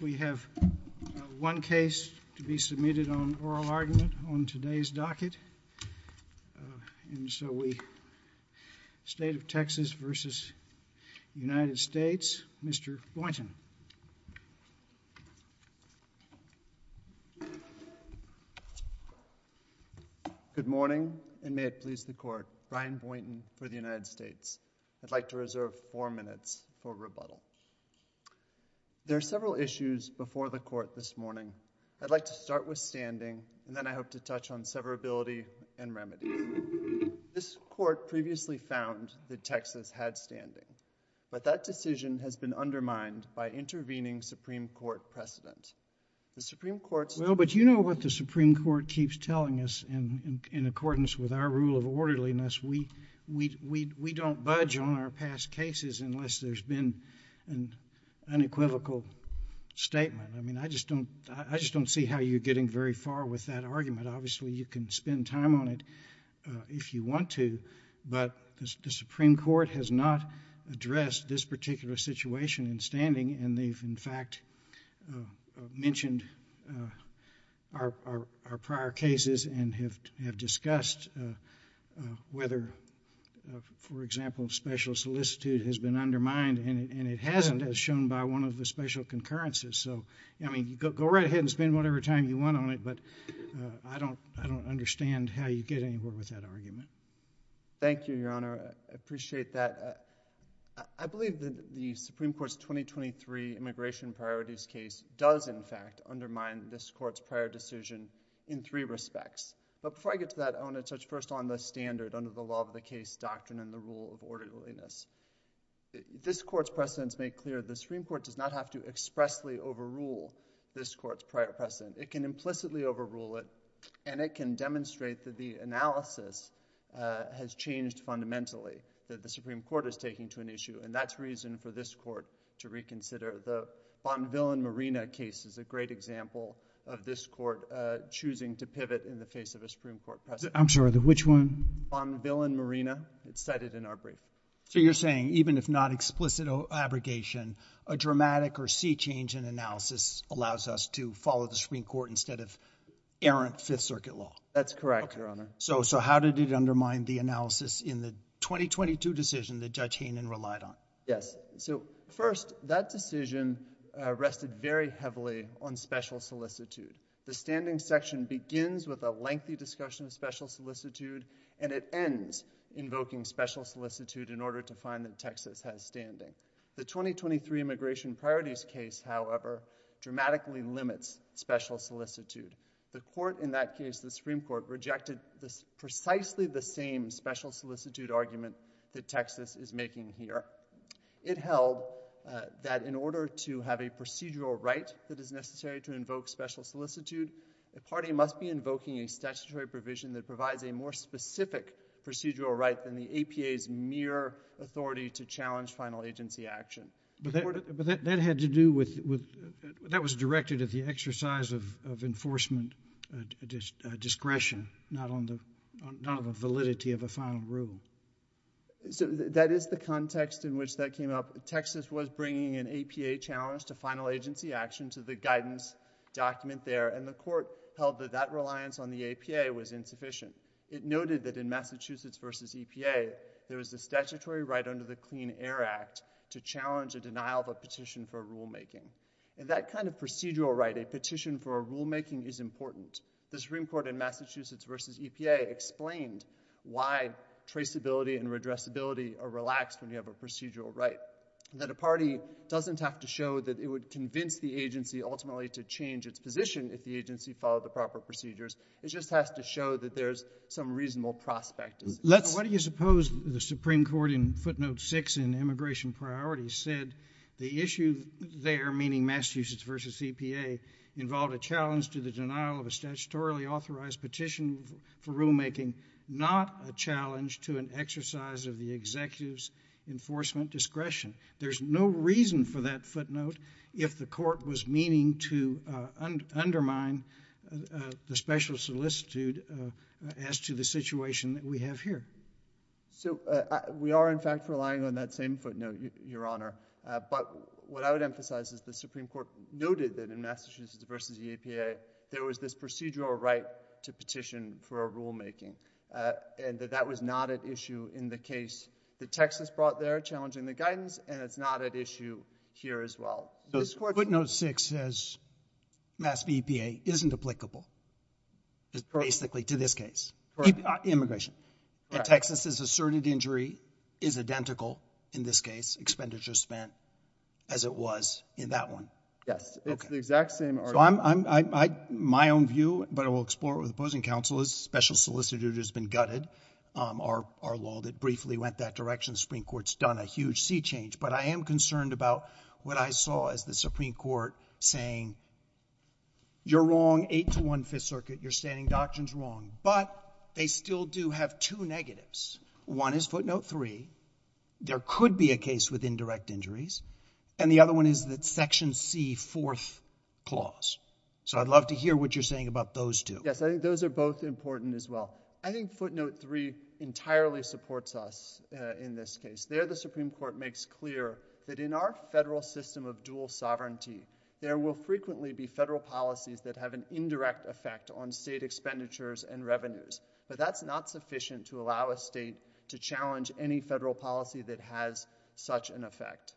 We have one case to be submitted on oral argument on today's docket, State of Texas v. United States. Mr. Boynton. Good morning, and may it please the Court, Brian Boynton for the United States. I'd like to reserve four minutes for rebuttal. There are several issues before the Court this morning. I'd like to start with standing, and then I hope to touch on severability and remedy. This Court previously found that Texas had standing, but that decision has been undermined by intervening Supreme Court precedent. The Supreme Court's... Well, but you know what the Supreme Court keeps telling us in accordance with our rule of orderliness. We don't budge on our past cases unless there's been an unequivocal statement. I mean, I just don't see how you're getting very far with that argument. Obviously, you can spend time on it if you want to, but the Supreme Court has not addressed this particular situation in standing, and they've, in fact, mentioned our prior cases and have discussed whether, for example, special solicitude has been undermined, and it hasn't as shown by one of the special concurrences. So, I mean, go right ahead and spend whatever time you want on it, but I don't understand how you get anywhere with that argument. Thank you, Your Honor. I appreciate that. I believe that the Supreme Court's 2023 immigration priorities case does, in fact, undermine this court's prior decision in three respects, but before I get to that, I want to touch first on the standard under the law of the case doctrine and the rule of orderliness. This court's precedents make clear the Supreme Court does not have to expressly overrule this court's prior precedent. It can implicitly overrule it, and it can demonstrate that the analysis has changed fundamentally, that the Supreme Court is taking to an issue, and that's reason for this court to reconsider. The Bonvillain-Marina case is a great example of this court choosing to pivot in the case of a Supreme Court precedent. I'm sorry, which one? Bonvillain-Marina. It's cited in our brief. So, you're saying even if not explicit abrogation, a dramatic or sea-changing analysis allows us to follow the Supreme Court instead of errant Fifth Circuit law? That's correct, Your Honor. So, how did it undermine the analysis in the 2022 decision that Judge Hainan relied on? Yes. So, first, that decision rested very heavily on special solicitude. The standing section begins with a lengthy discussion of special solicitude, and it ends invoking special solicitude in order to find that Texas has standing. The 2023 immigration priorities case, however, dramatically limits special solicitude. The court in that case, the Supreme Court, rejected precisely the same special solicitude argument that Texas is making here. It held that in order to have a procedural right that is necessary to invoke special solicitude, the party must be invoking a statutory provision that provides a more specific procedural right than the APA's mere authority to challenge final agency action. But that had to do with, that was directed at the exercise of enforcement discretion, not on the validity of a final rule. So, that is the context in which that came up. Texas was bringing an APA challenge to final agency action, so the guidance document there, and the court held that that reliance on the APA was insufficient. It noted that in Massachusetts v. EPA, there was the statutory right under the Clean Air Act to challenge a denial of a petition for rulemaking. And that kind of procedural right, a petition for a rule making is important. The Supreme Court in Massachusetts v. EPA explained why traceability and redressability are relaxed when you have a procedural right. That a party doesn't have to show that it would convince the agency ultimately to change its position if the agency followed the proper procedures. It just has to show that there's some reasonable prospect. Let's, what do you suppose the Supreme Court in footnote 6 in immigration priorities said the issue there, meaning Massachusetts v. EPA, involved a challenge to the denial of a statutorily authorized petition for rulemaking, not a challenge to an exercise of the executive's enforcement discretion. There's no reason for that footnote if the court was meaning to undermine the special solicitude as to the situation that we have here. So, we are in fact relying on that same footnote, Your Honor. But, what I would emphasize is the Supreme Court noted that in Massachusetts v. EPA, there was this procedural right to petition for a rulemaking. And that that was not at issue in the case that Texas brought there, challenging the guidance, and it's not at issue here as well. So, this court footnote 6 says Massachusetts v. EPA isn't applicable, basically to this case, immigration. Texas's asserted injury is identical in this case, expenditures spent, as it was in that one. Yes, it's the exact same argument. My own view, but I will explore it with opposing counsel, is special solicitude has been gutted. Our law that briefly went that direction, the Supreme Court's done a huge sea change. But, I am concerned about what I saw as the Supreme Court saying, you're wrong, 8-1 Fifth Circuit, you're saying doctrine's wrong. But, they still do have two negatives. One is footnote 3, there could be a case with indirect injuries, and the other one is that Section C, fourth clause. So, I'd love to hear what you're saying about those two. Yes, I think those are both important as well. I think footnote 3 entirely supports us in this case. There, the Supreme Court makes clear that in our federal system of dual sovereignty, there will frequently be federal policies that have an indirect effect on state expenditures and revenues. But, that's not sufficient to allow a state to challenge any federal policy that has such an effect.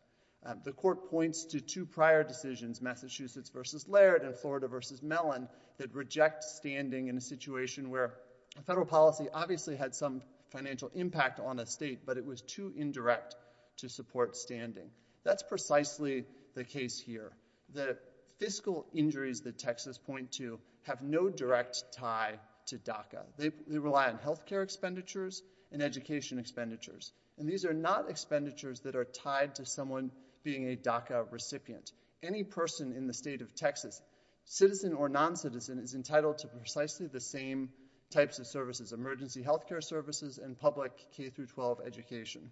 The court points to two prior decisions, Massachusetts v. Laird and Florida v. Mellon, that reject standing in a situation where a federal policy obviously had some financial impact on a state, but it was too indirect to support standing. That's precisely the case here. The fiscal injuries that Texas point to have no direct tie to DACA. They rely on health care expenditures and education expenditures. And, these are not expenditures that are tied to someone being a DACA recipient. Any person in the state of Texas, citizen or non-citizen, is entitled to precisely the same types of services, emergency health care services and public K-12 education.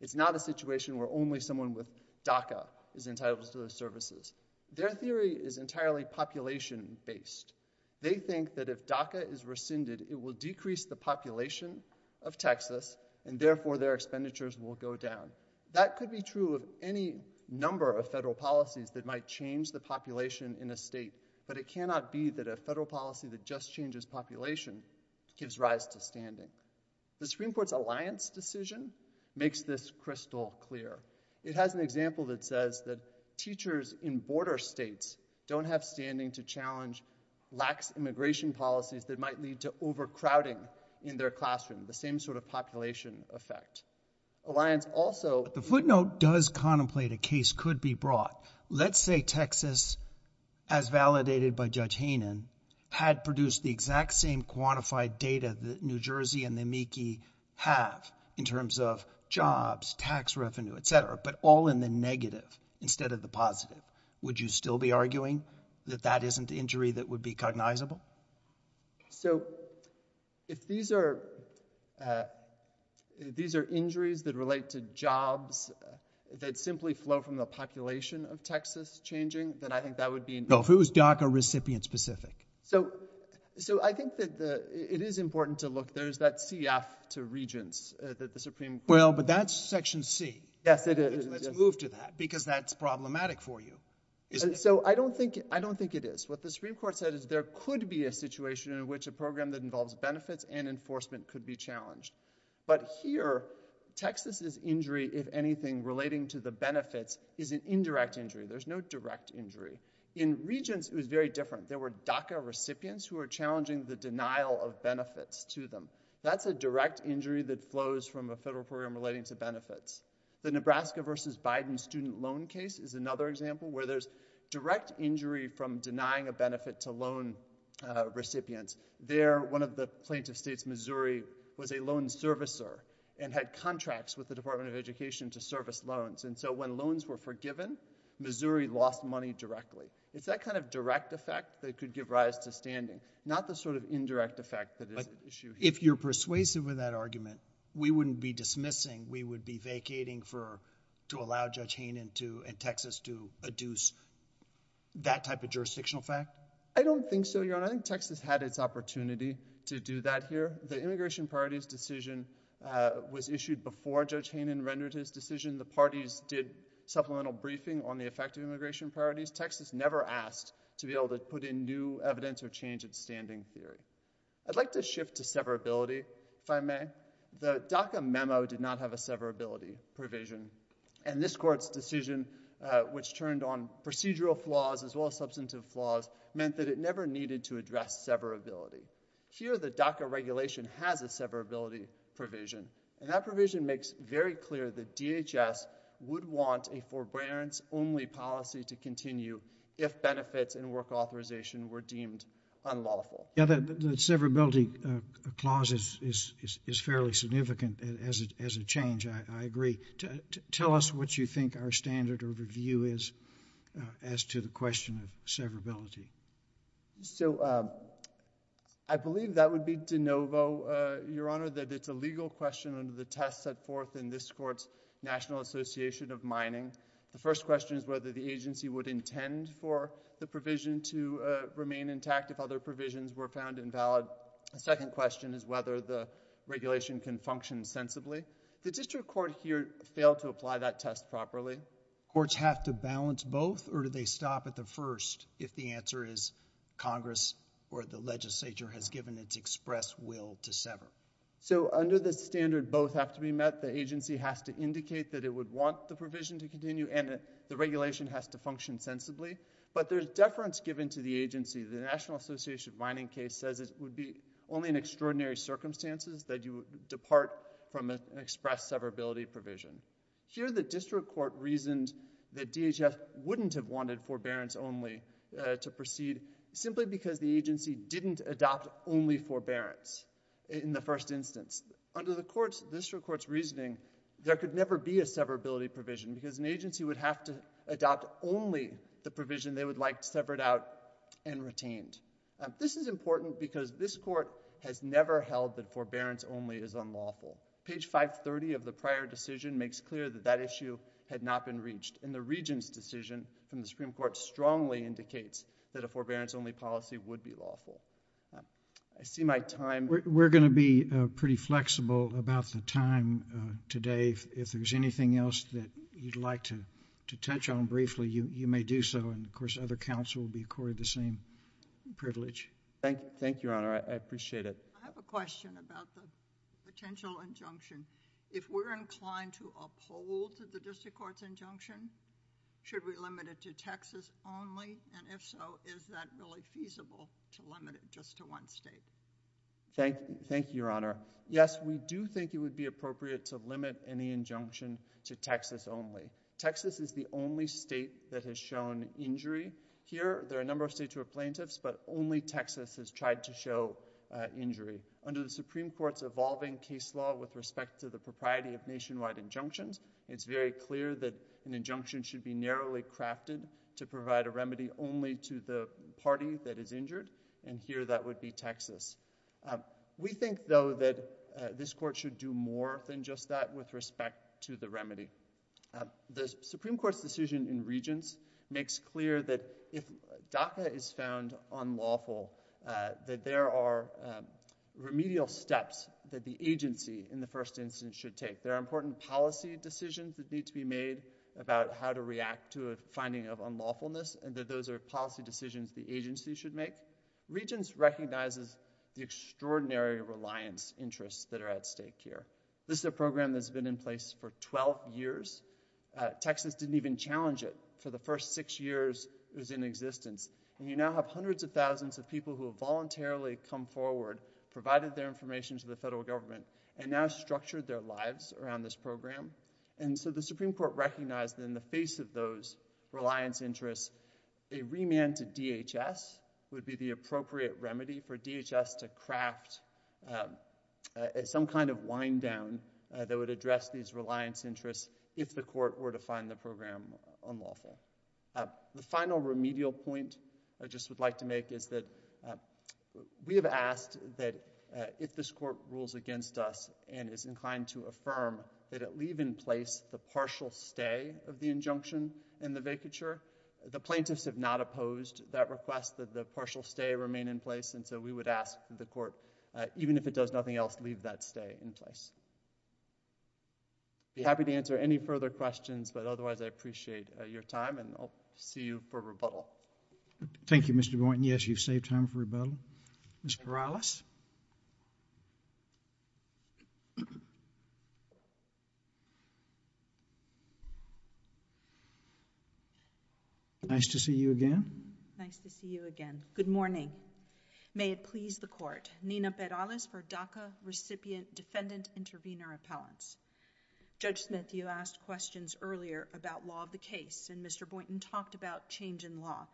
It's not a situation where only someone with DACA is entitled to those services. Their theory is entirely population-based. They think that if DACA is rescinded, it will decrease the population of Texas and, therefore, their expenditures will go down. That could be true of any number of federal policies that might change the population in a state, but it cannot be that a federal policy that just changes population gives rise to standing. The Supreme Court's decision makes this crystal clear. It has an example that says that teachers in border states don't have standing to challenge lax immigration policies that might lead to overcrowding in their classroom. The same sort of population effect. Alliance also... The footnote does contemplate a case could be brought. Let's say Texas, as validated by Judge Hainan, had produced the exact same quantified data that New Jersey and the Mieke have in terms of jobs, tax revenue, etc., but all in the negative instead of the positive. Would you still be arguing that that isn't the injury that would be cognizable? So, if these are injuries that relate to jobs that simply flow from the population of Texas changing, then I think that would be... No, if it was DACA recipient-specific. So, I think that it is important to look. There's that CF to Regents that the Supreme Court... Well, but that's Section C. Yes, it is. Let's move to that because that's problematic for you. So, I don't think it is. What the Supreme Court said is there could be a situation in which a program that involves benefits and enforcement could be challenged, but here, Texas's injury, if anything relating to the benefits, is an indirect injury. There's no direct injury. In Regents, it is very different. There were DACA recipients who are challenging the denial of benefits to them. That's a direct injury that flows from a federal program relating to benefits. The Nebraska versus Biden student loan case is another example where there's direct injury from denying a benefit to loan recipients. There, one of the plaintiff states, Missouri, was a loan servicer and had contracts with the Department of Education to service loans, and so when loans were forgiven, Missouri lost money directly. It's that kind of direct effect that could give rise to standing, not the sort of indirect effect that is at issue here. If you're persuasive with that argument, we wouldn't be dismissing. We would be vacating to allow Judge Haynen and Texas to adduce that type of jurisdictional fact? I don't think so, Your Honor. I think Texas had its opportunity to do that here. The Immigration Priorities Decision was issued before Judge Haynen rendered his decision. The parties did supplemental briefing on the effective immigration priorities. Texas never asked to be able to put in new evidence or change its standing theory. I'd like to shift to severability, if I may. The DACA memo did not have a severability provision, and this Court's decision, which turned on procedural flaws as well as substantive flaws, meant that it never needed to address severability. Here, the DACA regulation has a severability provision, and that provision makes very clear that DHS would want a forbearance-only policy to continue if benefits and work authorization were deemed unlawful. Yeah, the severability clause is fairly significant as a change. I agree. Tell us what you think our standard of review is as to the question of severability. So, I believe that would be de novo, Your Honor, that it's a legal question under the test set forth in this Court's National Association of Mining. The first question is whether the agency would intend for the provision to remain intact if other provisions were found invalid. The second question is whether the regulation can function sensibly. Did this Court here fail to apply that test properly? Courts have to balance both, or do they stop at the first if the answer is Congress or the legislature has given its express will to sever? So, under the standard both have to be met, the agency has to indicate that it would want the provision to continue, and the regulation has to function sensibly, but there's deference given to the agency. The National Association of Mining case says it would be only in extraordinary circumstances that you depart from an severability provision. Here the District Court reasons that DHS wouldn't have wanted forbearance only to proceed simply because the agency didn't adopt only forbearance in the first instance. Under the District Court's reasoning, there could never be a severability provision because an agency would have to adopt only the provision they would like severed out and retained. This is important because this Court has never held that forbearance only is unlawful. Page 530 of the prior decision makes clear that that issue had not been reached, and the Regent's decision from the Supreme Court strongly indicates that a forbearance only policy would be lawful. I see my time... We're going to be pretty flexible about the time today. If there's anything else that you'd like to touch on briefly, you may do so, and of course other counsel will be accorded the same privilege. Thank you, Your Honor. I appreciate it. I have a question about the potential injunction. If we're inclined to uphold the District Court's injunction, should we limit it to Texas only, and if so, is that really feasible to limit it just to one state? Thank you, Your Honor. Yes, we do think it would be appropriate to limit any injunction to Texas only. Texas is the only state that has shown injury. Here, there are a number of states who are plaintiffs, but only Texas has tried to show injury. Under the Supreme Court's evolving case law with respect to the propriety of nationwide injunctions, it's very clear that an injunction should be narrowly crafted to provide a remedy only to the party that is injured, and here that would be Texas. We think, though, that this Court should do more than just that with respect to the remedy. The Supreme Court's decision in Regents makes clear that if DACA is found unlawful, that there are remedial steps that the agency, in the first instance, should take. There are important policy decisions that need to be made about how to react to a finding of unlawfulness, and that those are policy decisions the agency should make. Regents recognizes the extraordinary reliance interests that are at stake here. This is a program that's been in place for 12 years. Texas didn't even challenge it for the first six years it was in existence, and you now have hundreds of thousands of people who have voluntarily come forward, provided their information to the federal government, and now structured their lives around this program. And so the Supreme Court recognized in the face of those reliance interests, a remand to DHS would be the appropriate remedy for DHS to craft some kind of wind-down that would address these reliance interests if the Court were to find the program unlawful. The final remedial point I just would like to make is that we have asked that if this Court rules against us and is inclined to affirm that it leave in place the partial stay of the injunction and the vacature, the plaintiffs have not opposed that request that the partial stay remain in place, and so we would ask that the Court, even if it does nothing else, leave that stay in place. I'd be happy to answer any further questions, but otherwise I appreciate your time, and I'll see you for rebuttal. Thank you, Mr. Boynton. Yes, you've saved time for rebuttal. Ms. Perales? Nice to see you again. Nice to see you again. Good morning. May it please the Court, Nina Perales for DACA recipient defendant intervenor appellants. Judge Smith, you asked questions earlier about law of the case, and Mr. Boynton talked about change in law.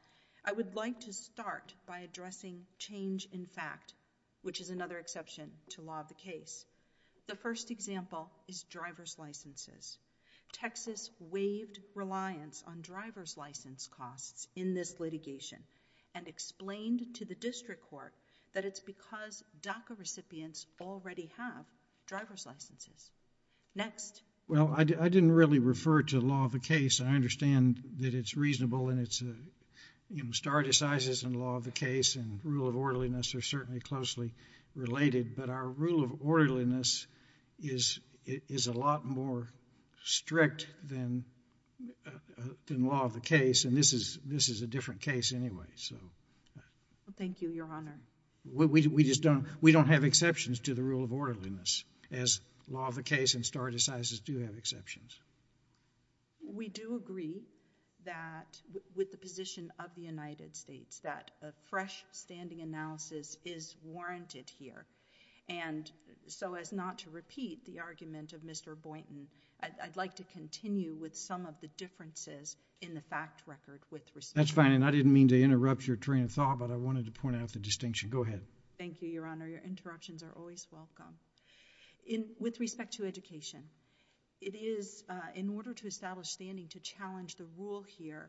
I would like to start by addressing change in fact, which is another exception to law of the case. The first example is driver's licenses. Texas waived reliance on driver's license costs in this litigation and explained to the District Court that it's because DACA recipients already have driver's licenses. Next. Well, I didn't really refer to the law of the case. I understand that it's reasonable, and it's a, you know, stardesizes in law of the case, and rule of orderliness are certainly closely related, but our rule of orderliness is a lot more strict than law of the case, and this is a different case anyway, so. Thank you, Your Honor. We just don't, we don't have exceptions to the rule of orderliness, as law of the case and stardesizes do have exceptions. We do agree that, with the position of the United States, that a fresh standing analysis is warranted here, and so as not to repeat the argument of Mr. Boynton, I'd like to continue with some of the differences in the fact record. That's fine, and I didn't mean to interrupt your train of thought, but I wanted to point out the distinction. Go ahead. Thank you, Your Honor. Your interruptions are always welcome. In, with respect to education, it is, in order to establish standing to challenge the rule here,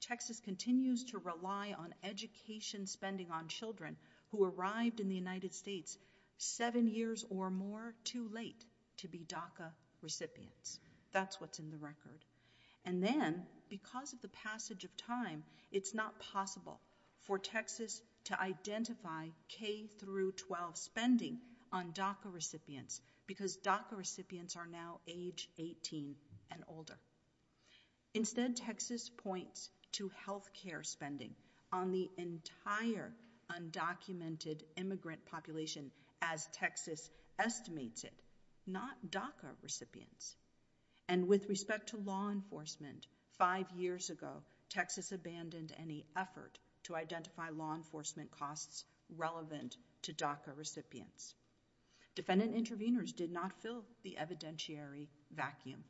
Texas continues to rely on education spending on children who arrived in the United States seven years or more too late to be DACA recipients. That's what's in the record, and then, because of the passage of time, it's not possible for Texas to identify K through 12 spending on DACA recipients, because DACA recipients are now age 18 and older. Instead, Texas points to health care spending on the entire undocumented immigrant population as Texas estimates it, not DACA recipients, and with respect to law enforcement, five years ago, Texas abandoned any effort to identify law enforcement costs relevant to DACA recipients. Defendant interveners did not fill the evidentiary vacuum.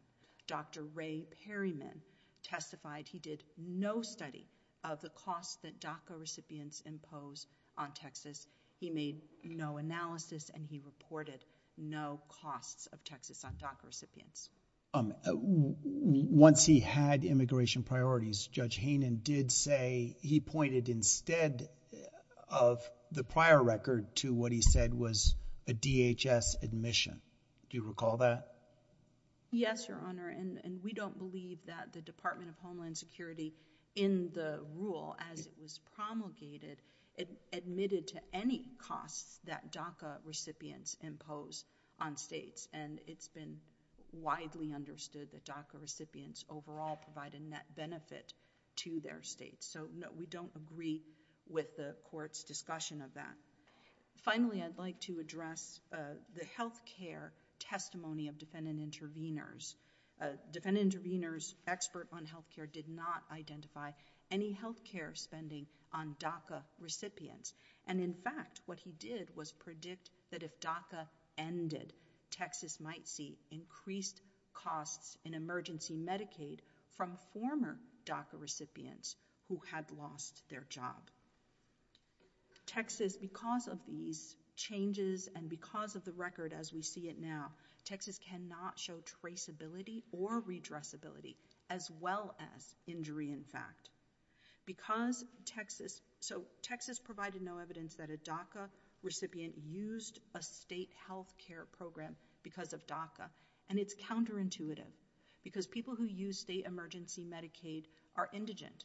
Dr. Ray Perryman testified he did no study of the costs that DACA recipients impose on Texas. He made no analysis, and he reported no costs of Texas on DACA recipients. Once he had immigration priorities, Judge Hainan did say he pointed, instead of the prior record, to what he said was a DHS admission. Do you recall that? Yes, Your Honor, and we don't believe that the Department of Homeland Security, in the rule as it was promulgated, admitted to any costs that DACA recipients impose on states, and it's been widely understood that DACA recipients overall provide a net benefit to their states. So, no, we don't agree with the court's discussion of that. Finally, I'd like to address the health care testimony of defendant interveners. Defendant interveners, expert on health care, did not identify any health care spending on DACA recipients, and in fact, what he did was predict that if DACA ended, Texas might see increased costs in emergency Medicaid from former DACA recipients who had lost their job. Texas, because of these changes, and because of the record as we see it now, Texas cannot show traceability or redressability, as well as injury, in fact, because Texas, so Texas provided no evidence that a DACA recipient used a state health care program because of DACA, and it's counterintuitive because people who use state emergency Medicaid are indigent.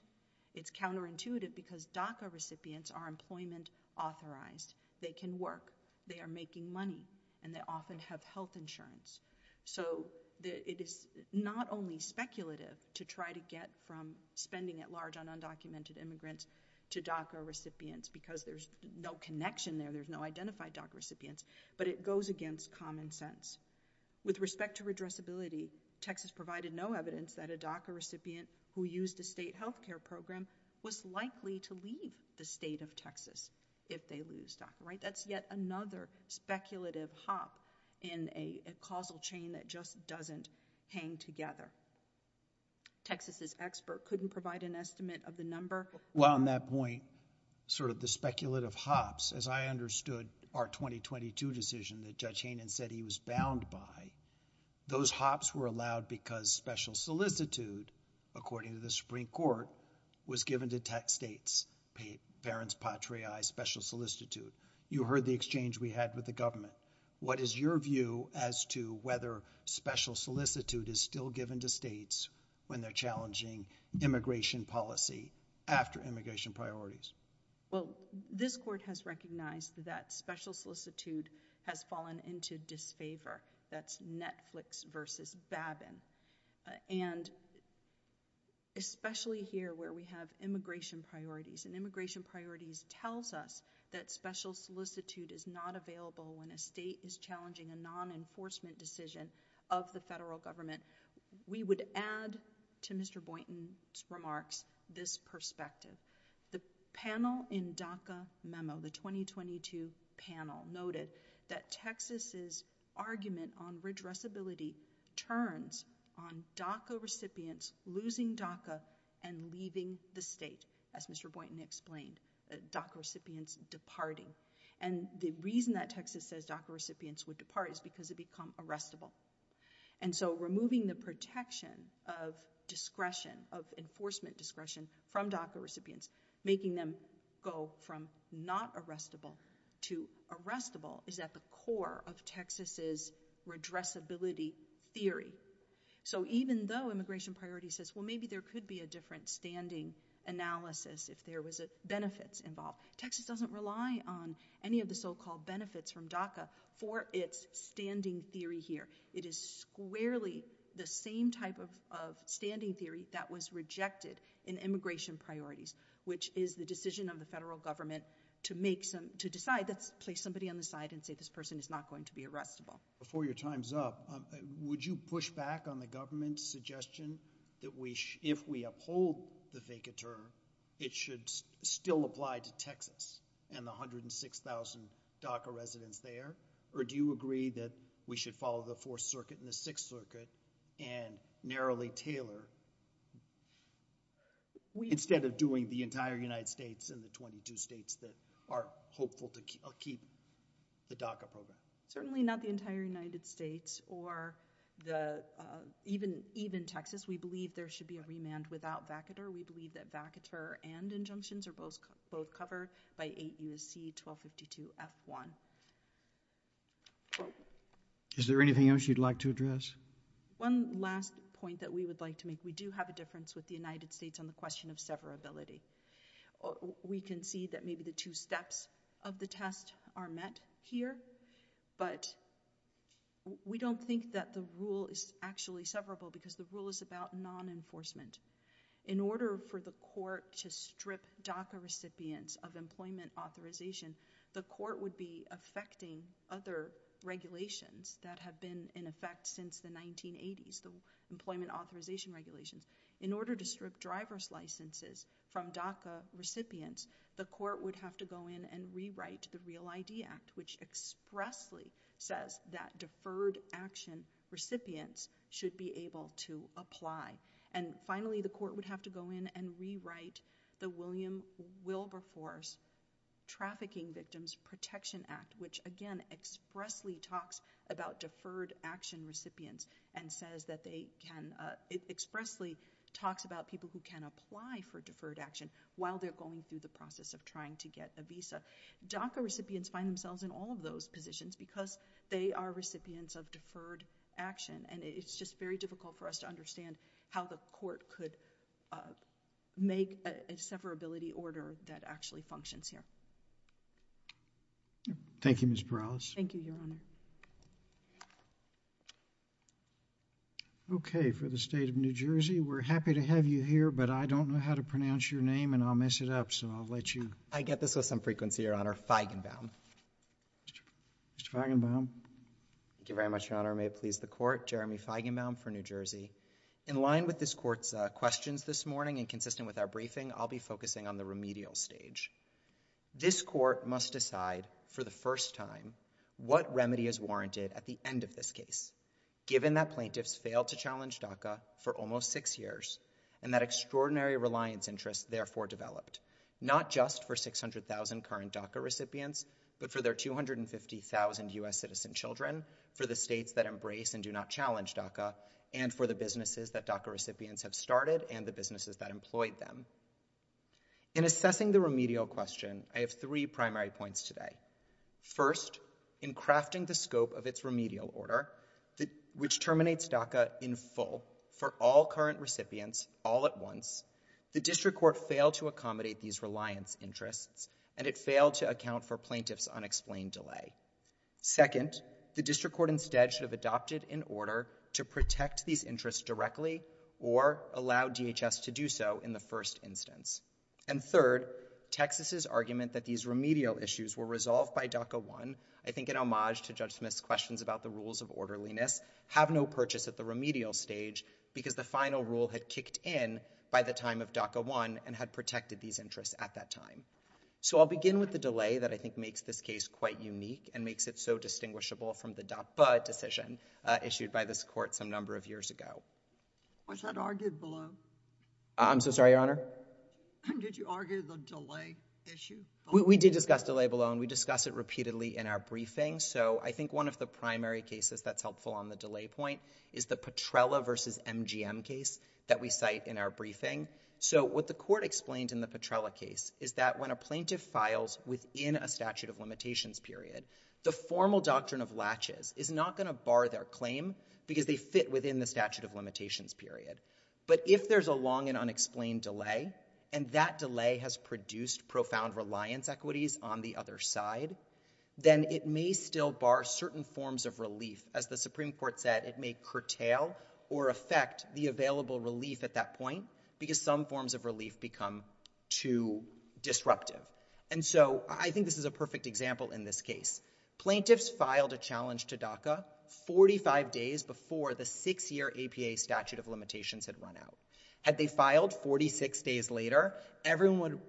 It's counterintuitive because DACA recipients are employment authorized. They can work, they are making money, and they often have health insurance. So, it is not only speculative to try to get from spending at large on undocumented immigrants to DACA recipients because there's no connection there, there's no identified DACA recipients, but it goes against common sense. With respect to redressability, Texas provided no evidence that a DACA recipient who used the state health care program was likely to leave the state of Texas if they lose DACA, right? That's yet another speculative hop in a causal chain that just doesn't hang together. Texas' expert couldn't provide an estimate of the number. Well, on that point, sort of the speculative hops, as I understood our 2022 decision that Judge Hainan said he was bound by, those hops were allowed because special solicitude, according to the Supreme Court, was given to tech states, the verence patriae special solicitude. You What is your view as to whether special solicitude is still given to states when they're challenging immigration policy after immigration priorities? Well, this court has recognized that special solicitude has fallen into disfavor. That's Netflix versus Babin, and especially here where we have immigration priorities, and immigration priorities tells us that special solicitude is challenging a non-enforcement decision of the federal government. We would add to Mr. Boynton's remarks this perspective. The panel in DACA memo, the 2022 panel, noted that Texas' argument on redressability turns on DACA recipients losing DACA and leaving the state, as Mr. Boynton explained, that DACA recipients departing. And the reason that Texas says DACA recipients would depart is because they become arrestable. And so removing the protection of discretion of enforcement discretion from DACA recipients, making them go from not arrestable to arrestable, is at the core of Texas' redressability theory. So even though immigration priority says, well maybe there could be a different standing analysis if there was benefits involved, Texas doesn't rely on any of the so-called benefits from DACA for its standing theory here. It is squarely the same type of standing theory that was rejected in immigration priorities, which is the decision of the federal government to decide to place somebody on the side and say this person is not going to be arrestable. Before your time's up, would you push back on the government's suggestion that if we uphold the DACA term, it should still apply to Texas and the 106,000 DACA residents there? Or do you agree that we should follow the Fourth Circuit and the Sixth Circuit and narrowly tailor, instead of doing the entire United States and the 22 states that are hopeful to keep the DACA program? Certainly not the entire United States or even Texas. We believe there should be a demand without vacater. We believe that vacater and injunctions are both covered by 8 U.S.C. 1252 F1. Is there anything else you'd like to address? One last point that we would like to make. We do have a difference with the United States on the question of severability. We can see that maybe the two steps of the test are met here, but we don't think that the rule is actually severable because the rule is about non-enforcement. In order for the court to strip DACA recipients of employment authorization, the court would be affecting other regulations that have been in effect since the 1980s, the employment authorization regulations. In order to strip driver's licenses from DACA recipients, the court would have to go in and rewrite the Real ID Act, which expressly says that deferred action recipients should be able to apply. And finally, the court would have to go in and rewrite the William Wilberforce Trafficking Victims Protection Act, which again, expressly talks about deferred action recipients and says that they can expressly talk about people who can apply for deferred action while they're going through the process of trying to get a visa. DACA recipients find themselves in all of those positions because they are recipients of deferred action, and it's just very difficult for us to understand how the court could make a severability order that actually functions here. Thank you, Ms. Burrows. Thank you, Your Honor. Okay, for the state of New Jersey, we're happy to have you here, but I don't know how to pronounce your name and I'll mess it up, so I'll let you... I get this with some frequency, Your Honor. Feigenbaum. Mr. Feigenbaum. Thank you very much, Your Honor. May it please the court. Jeremy Feigenbaum for New Jersey. In line with this court's questions this morning and consistent with our briefing, I'll be focusing on the remedial stage. This court must decide for the first time what remedy is warranted at the end of this case, given that plaintiffs failed to challenge DACA for almost six years and that extraordinary reliance interest therefore developed, not just for 600,000 current DACA recipients, but for their 250,000 US citizen children, for the states that embrace and do not challenge DACA, and for the businesses that DACA recipients have started and the businesses that employed them. In assessing the remedial question, I have three primary points today. First, in crafting the scope of its remedial order, which terminates DACA in full for all current recipients all at once, the district court failed to accommodate these reliance interests and it failed to account for plaintiff's unexplained delay. Second, the district court instead should have adopted an order to protect these interests directly or allow DHS to do so in the first instance. And third, Texas's argument that these remedial issues were resolved by DACA 1, I think an homage to Judge Smith's questions about the rules of orderliness, have no purchase at the remedial stage because the final rule had kicked in by the time of DACA 1 and had protected these interests at that time. So I'll begin with the delay that I think makes this case quite unique and makes it so distinguishable from the DACA decision issued by this court some number of years ago. Was that argued below? I'm so sorry, Your Honor. Did you argue the delay issue? We did discuss delay below and we discussed it repeatedly in our briefing, so I think one of the primary cases that's helpful on the delay point is the Petrella versus MGM case that we cite in our briefing. So what the court explained in the Petrella case is that when a plaintiff files within a statute of limitations period, the formal doctrine of latches is not going to bar their claim because they fit within the statute of limitations period. But if there's a long and unexplained delay and that delay has produced profound reliance equities on the other side, then it may still bar certain forms of relief. As the Supreme Court said, it may curtail or affect the available relief at that point because some forms of relief become too disruptive. And so I think this is a perfect example in this case. Plaintiffs filed a challenge to DACA 45 days before the six-year APA statute of limitations had run out. Had they filed 46 days later, everyone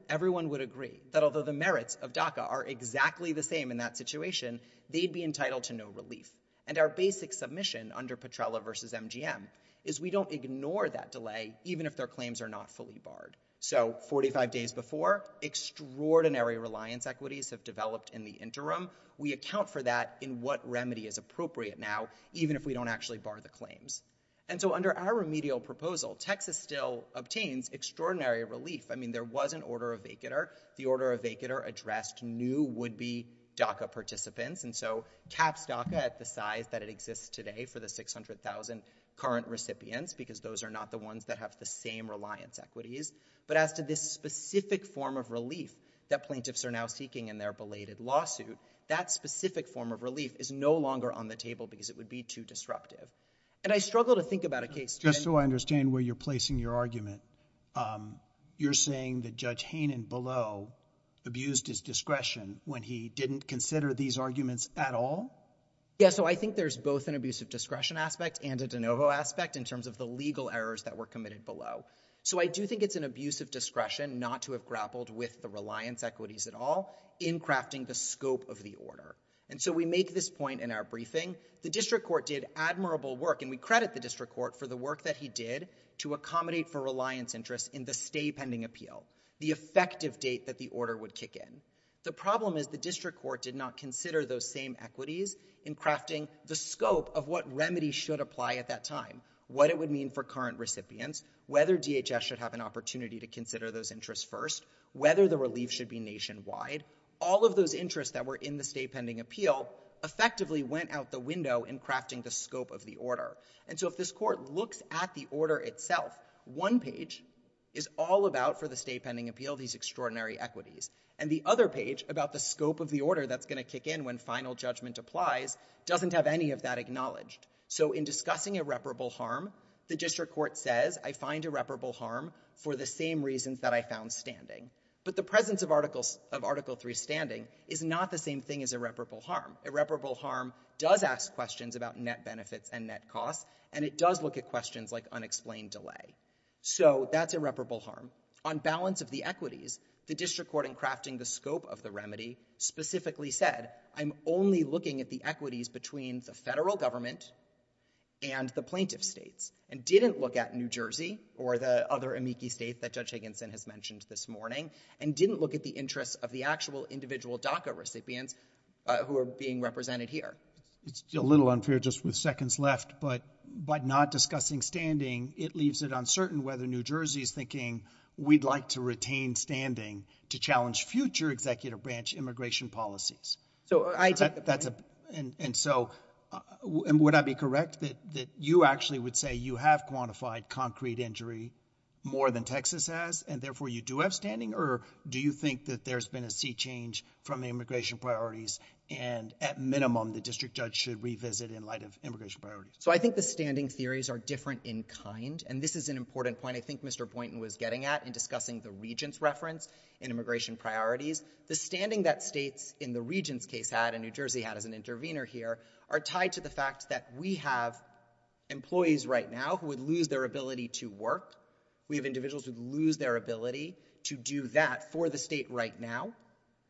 would agree that although the merits of DACA are exactly the same in that situation, they'd be entitled to no relief. And our basic submission under Petrella versus MGM is we don't ignore that delay even if their claims are not fully barred. So 45 days before, extraordinary reliance equities have developed in the interim. We account for that in what remedy is appropriate now, even if we don't actually bar the claims. And so under our remedial proposal, Texas still obtains extraordinary relief. I mean, there was an order of vacater. The order of vacater addressed new would-be DACA participants. And so cap DACA at the size that it currently has is about 600,000 current recipients because those are not the ones that have the same reliance equities. But after this specific form of relief that plaintiffs are now seeking in their belated lawsuit, that specific form of relief is no longer on the table because it would be too disruptive. And I struggle to think about a case... Just so I understand where you're placing your argument, you're saying that Judge Hainan below abused his discretion when he didn't consider these arguments at all? Yeah, so I think there's both an abuse of discretion aspect and a de novo aspect in terms of the legal errors that were committed below. So I do think it's an abuse of discretion not to have grappled with the reliance equities at all in crafting the scope of the order. And so we make this point in our briefing. The district court did admirable work, and we credit the district court for the work that he did to accommodate for reliance interest in the stay pending appeal, the effective date that the order would kick in. The problem is the district court did not consider those same equities in crafting the scope of what remedies should apply at that time, what it would mean for current recipients, whether DHS should have an opportunity to consider those interests first, whether the relief should be nationwide. All of those interests that were in the stay pending appeal effectively went out the window in crafting the scope of the order. And so if this court looks at the order itself, one page is all about for the stay pending appeal these extraordinary equities, and the other page about the scope of the order that's going to kick in when final judgment applies doesn't have any of that acknowledged. So in discussing irreparable harm, the district court says, I find irreparable harm for the same reasons that I found standing. But the presence of Article 3 standing is not the same thing as irreparable harm. Irreparable harm does ask questions about net benefits and net costs, and it does look at questions like unexplained delay. So that's irreparable harm. On balance of the equities, the district court in crafting the scope of the remedy specifically said, I'm only looking at the equities between the federal government and the plaintiff states, and didn't look at New Jersey or the other amici states that Judge Higginson has mentioned this morning, and didn't look at the interests of the actual individual DACA recipients who are being represented here. It's a little unfair just with seconds left, but by not discussing standing, it leaves it uncertain whether New Jersey is thinking, we'd like to retain standing to challenge future executive branch immigration policies. And so, would I be correct that you actually would say you have quantified concrete injury more than Texas has, and therefore you do have standing? Or do you think that there's been a sea change from the immigration priorities, and at minimum the district judge should revisit in light of immigration priorities? So I think the standing theories are different in kind, and this is an important point. I think Mr. Boynton was getting at in discussing the region's reference in immigration priorities. The standing that states in the region's case had, and New Jersey had as an intervener here, are tied to the fact that we have employees right now who would lose their ability to work. We have individuals who lose their ability to do that for the state right now,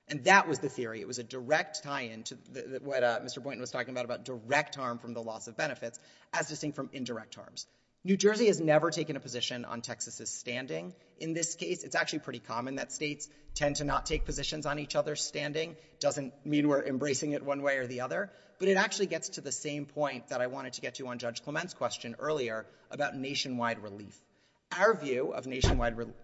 and that was the theory. It was a direct tie in to what Mr. Boynton was talking about, about direct harm from the loss of benefits, as distinct from indirect harms. New Jersey has never taken a position on Texas's standing. In this case, it's actually pretty common that states tend to not take positions on each other's standing. It doesn't mean we're embracing it one way or the other, but it actually gets to the same point that I wanted to get to on Judge Clement's question earlier about nationwide relief. Our view of nationwide relief,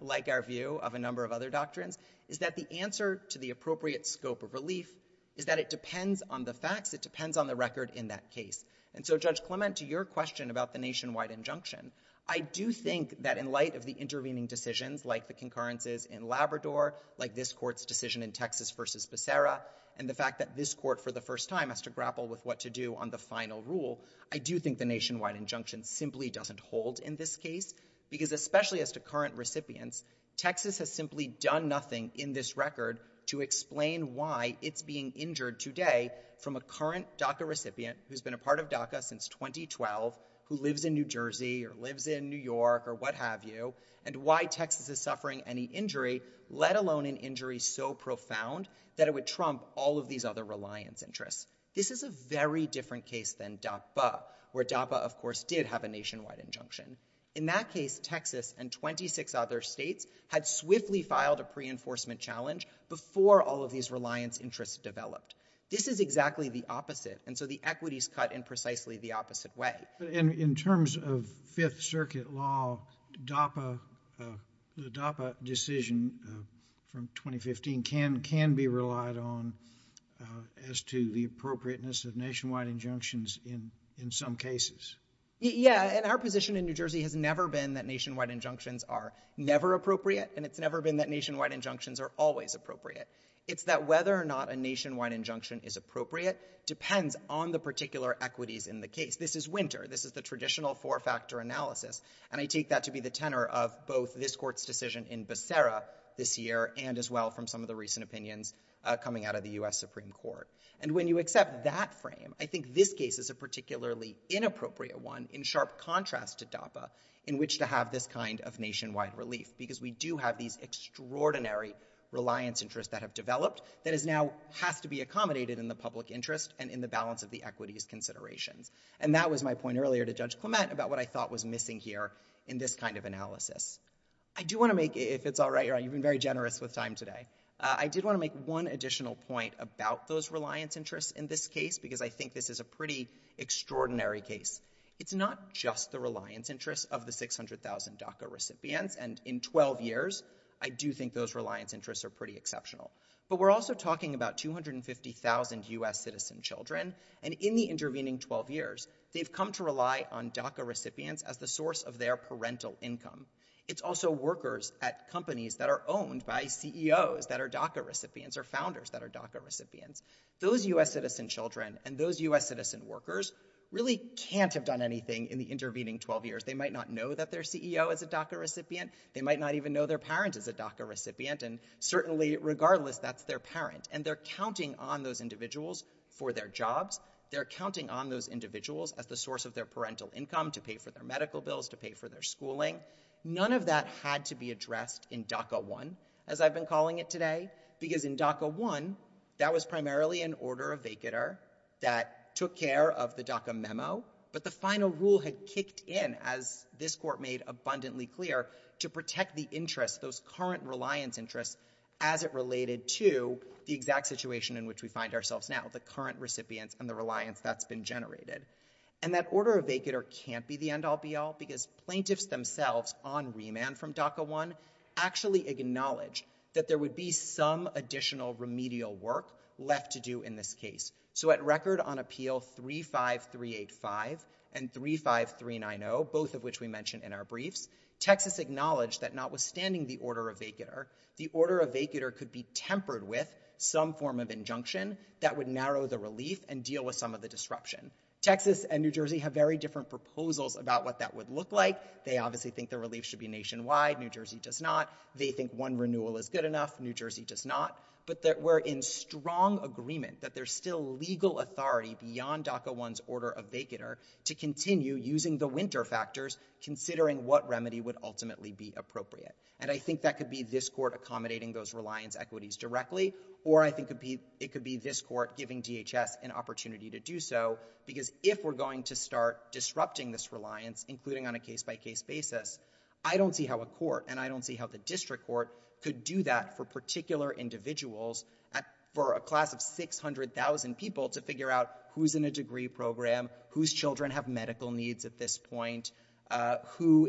like our view of a number of other doctrines, is that the answer to the appropriate scope of relief is that it depends on the facts, it depends on the record in that case. And so Judge Clement, to your question about the nationwide injunction, I do think that in light of the intervening decisions, like the concurrences in Labrador, like this court's decision in Texas versus Becerra, and the fact that this court for the first time has to grapple with what to do on the final rule, I do think the nationwide injunction simply doesn't hold in this case, because especially as to current recipients, Texas has simply done nothing in this record to explain why it's being injured today from a current DACA recipient who's been a part of DACA since 2012, who lives in New Jersey or lives in New York or what have you, and why Texas is suffering any injury, let alone an injury so profound that it would trump all of these other reliance interests. This is a very different case than DAPA, where DAPA of course did have a nationwide injunction. In that case, Texas and 26 other states had swiftly filed a pre-enforcement challenge before all of these reliance interests developed. This is exactly the opposite, and so the equity is cut in precisely the opposite way. In terms of Fifth Circuit law, the DAPA decision from 2015 can be relied on as to the appropriateness of nationwide injunctions in some cases. Yeah, and our position in New Jersey has never been that nationwide injunctions are never appropriate, and it's never been that nationwide injunctions are always appropriate. It's that whether or not a nationwide injunction is appropriate depends on the particular equities in the case. This is winter. This is a traditional four-factor analysis, and I take that to be the tenor of both this court's decision in Becerra this year and as well from some of the recent opinions coming out of the US Supreme Court. And when you accept that frame, I think this case is a particularly inappropriate one in sharp contrast to DAPA, in which to have this kind of nationwide relief, because we do have these extraordinary reliance interests that have developed that now have to be accommodated in the public interest and in the balance of the equities consideration. And that was my point earlier to Judge Clement about what I thought was missing here in this kind of analysis. I do want to make, if it's all right, you've been very generous with time today, I did want to make one additional point about those reliance interests in this case, because I think that this is a pretty extraordinary case. It's not just the reliance interests of the 600,000 DACA recipients, and in 12 years I do think those reliance interests are pretty exceptional. But we're also talking about 250,000 US citizen children, and in the intervening 12 years, they've come to rely on DACA recipients as the source of their parental income. It's also workers at companies that are owned by CEOs that are DACA recipients, or founders that are DACA recipients. Those US citizen children and those US citizen workers really can't have done anything in the intervening 12 years. They might not know that their CEO is a DACA recipient, they might not even know their parents is a DACA recipient. Certainly, regardless, that's their parent, and they're counting on those individuals for their jobs. They're counting on those individuals as the source of their parental income to pay for their medical bills, to pay for their schooling. None of that had to be addressed in DACA 1, as I've been calling it today, because in DACA 1, that was primarily an order of vacater that took care of the DACA memo, but the final rule had kicked in, as this court made abundantly clear, to protect the interest, those current reliance interests, as it related to the exact situation in which we find ourselves now, the current recipient from the reliance that's been generated. And that order of vacater can't be the end-all be-all, because plaintiffs themselves, on remand from DACA 1, actually acknowledged that there would be some additional remedial work left to do in this case. So at record on Appeal 35385 and 35390, both of which we mentioned in our briefs, Texas acknowledged that notwithstanding the order of vacater, the order of vacater could be tempered with some form of injunction that would narrow the relief and deal with some of the disruption. Texas and New Jersey have very different proposals about what that would look like. They obviously think the relief should be nationwide. New Jersey does not. They think one renewal is good enough. New Jersey does not. But that we're in strong agreement that there's still legal authority beyond DACA 1's order of vacater to continue using the winter factors, considering what remedy would ultimately be appropriate. And I think that could be this court accommodating those reliance equities directly, or I think it could be this court giving DHS an opportunity to do so, because if we're going to start disrupting this reliance, including on a case-by-case basis, I don't see how a court, and I don't see how the district court, could do that for particular individuals, for a degree program, whose children have medical needs at this point, who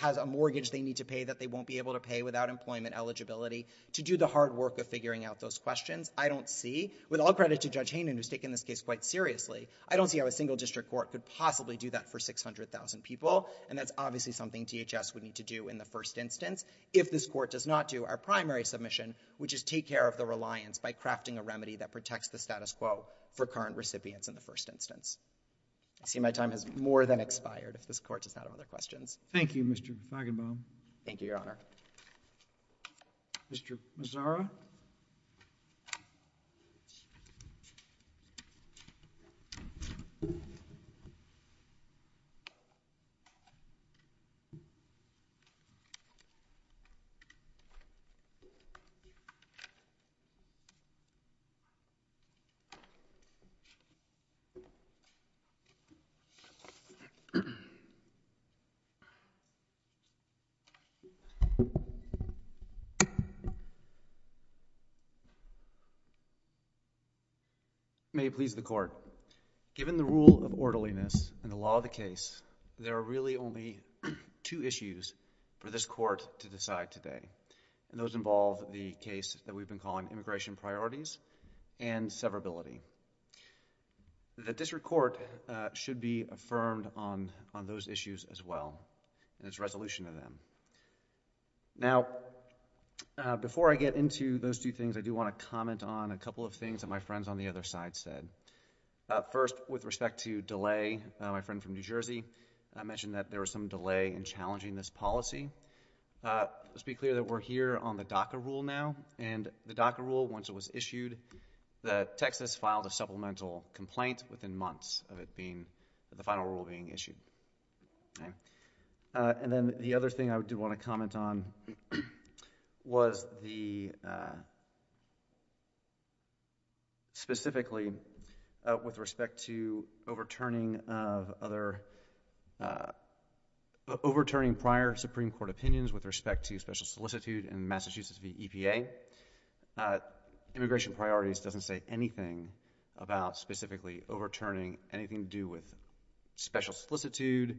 has a mortgage they need to pay that they won't be able to pay without employment eligibility, to do the hard work of figuring out those questions. I don't see, with all credit to Judge Hayman who's taken this case quite seriously, I don't see how a single district court could possibly do that for 600,000 people, and that's obviously something DHS would need to do in the first instance. If this court does not do our primary submission, which is take care of the reliance by crafting a remedy that protects the status quo for current recipients in the first instance. I see my time has more than expired, if this court does not have other questions. Thank you, Mr. Fagenbaum. Thank you, Your Honor. Mr. Mazzara? May it please the court. Given the rule of orderliness in the law of the case, there are really only two issues for this court to decide today, and those involve the case that we've been calling immigration priorities and severability. The district court should be affirmed on those issues as well, and it's resolution to them. Now, before I get into those two things, I do want to comment on a couple of things that my friends on the other side said. First, with respect to delay, my friend from New Jersey, I mentioned that there was some delay in challenging this policy. Let's be clear that we're here on the DACA rule now, and the DACA rule, once it was issued, that Texas filed a supplemental complaint within months of it being, the final rule being issued. And then the other thing I do want to comment on was the, specifically, with respect to overturning of other, overturning prior Supreme Court opinions with respect to special solicitude in Massachusetts v. EPA. Immigration priorities doesn't say anything about, specifically, overturning anything to do with special solicitude,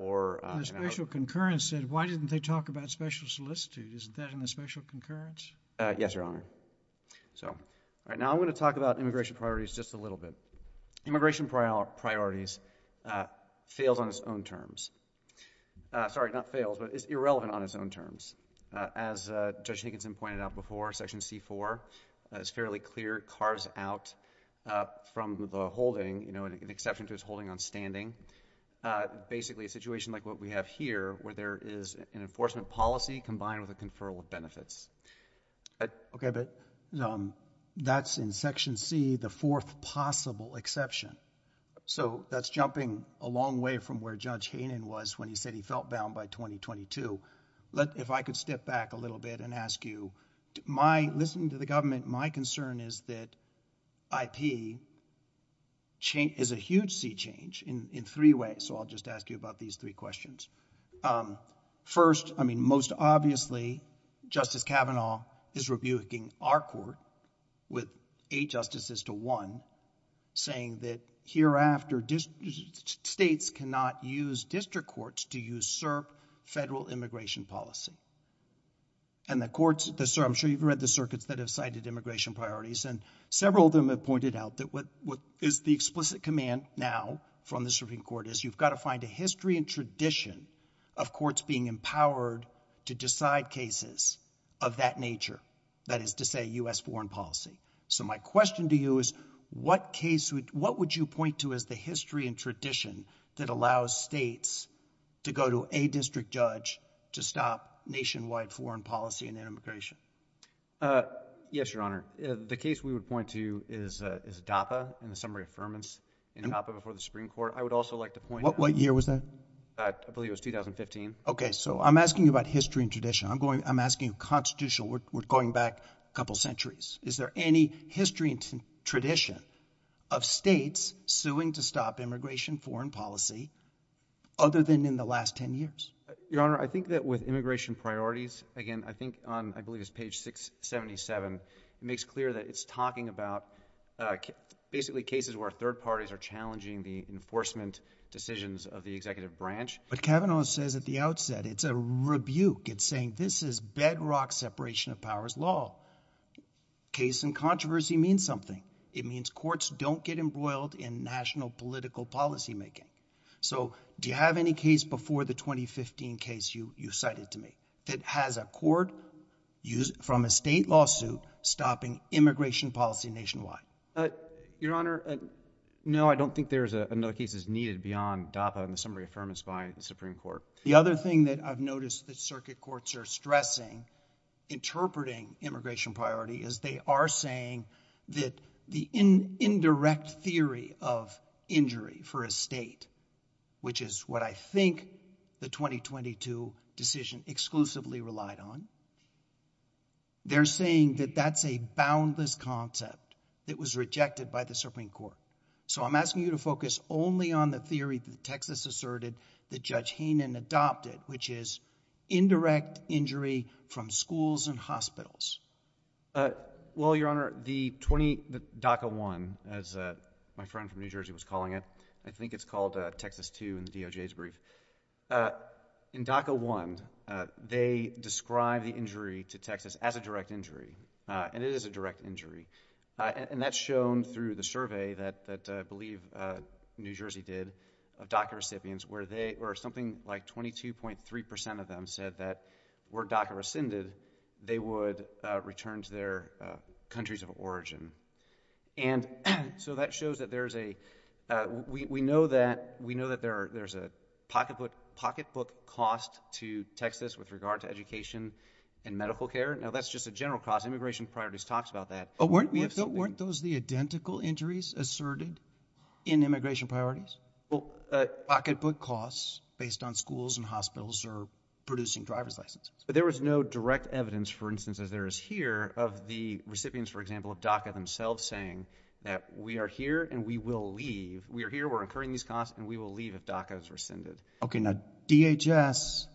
or... The special concurrence said, why didn't they talk about special solicitude? Isn't that in the special concurrence? Yes, Your Honor. So, now I want to talk about immigration priorities just a little bit. Immigration priorities fails on its own terms. Sorry, not fails, but it's irrelevant on its own terms. As Judge Higginson pointed out before, Section C-4 is fairly clear. It cars out from the holding, you know, an exception to its holding on standing. Basically, a situation like what we have here where there is an enforcement policy combined with a conferral of benefits. Okay, but that's in Section C, the fourth possible exception. So, that's jumping a long way from where Judge Hainan was when he said he felt bound by 2022. If I could step back a little bit and ask you, my, listening to the government, my concern is that IP is a huge sea change in three ways. So, I'll just ask you about these three questions. First, I mean, most obviously, Justice Kavanaugh is rebuking our court with eight justices to one, saying that hereafter, states cannot use district courts to usurp federal immigration policy. And the courts, I'm sure you've read the circuits that have cited immigration priorities, and several of them have pointed out that what is the explicit command now from the serving court is you've got to find a history and tradition of courts being empowered to decide cases of that nature, that is to say U.S. foreign policy. So, my question to you is what case, what would you point to as the history and tradition that allows states to go to a district judge to stop nationwide foreign policy and immigration? Yes, Your Honor. The case we would point to is DAPA and the summary of affirmance in DAPA before the Supreme Court. I would also like to point out, what year was that? I believe it was 2015. Okay, so I'm asking you about history and tradition. I'm going, I'm asking constitutional, we're going back a couple centuries. Is there any history and tradition of states suing to stop immigration foreign policy other than in the last ten years? Your Honor, I think that with immigration priorities, again, I think, I believe it's page 677, it makes clear that it's talking about basically cases where third parties are challenging the enforcement decisions of the executive branch. But Kavanaugh says at the outset, it's a rebuke, it's saying this is bedrock separation of powers law. Case in controversy means something. It means courts don't get embroiled in national political policymaking. So, do you have any case before the 2015 case you cited to me that has a court from a state lawsuit stopping immigration policy nationwide? Your Honor, no, I don't think there's another case that's needed beyond DAPA and the summary of affirmance by the Supreme Court. The other thing that I've noticed the circuit courts are stressing, interpreting immigration priority, is they are saying that the indirect theory of injury for a state, which is what I think the 2022 decision exclusively relied on, they're saying that that's a boundless concept. It was rejected by the Supreme Court. So, I'm asking you to focus only on the theory that Texas asserted that Judge Heenan adopted, which is indirect injury from schools and hospitals. Well, Your Honor, the DACA 1, as my friend from New Jersey was calling it, I think it's called Texas 2 in the DOJ's brief. In DACA 1, they describe the injury to Texas as a direct injury, and it is a direct injury. And that's shown through the survey that I believe New Jersey did of DACA recipients where they, or something like 22.3% of them said that were DACA rescinded, they would return to their countries of origin. And so, that shows that we know that there's a pocketbook cost to Texas with regard to education and medical care. Now, that's just a general cost. Immigration Priorities talks about that. Weren't those the identical injuries asserted in Immigration Priorities? Pocketbook costs based on schools and hospitals who are producing driver's licenses. But there was no direct evidence, for instance, that there is here of the recipients, for example, DACA themselves saying that we are here and we will leave. We are here, we're incurring these costs, and we will leave if DACA is rescinded. Okay. Now, DHS,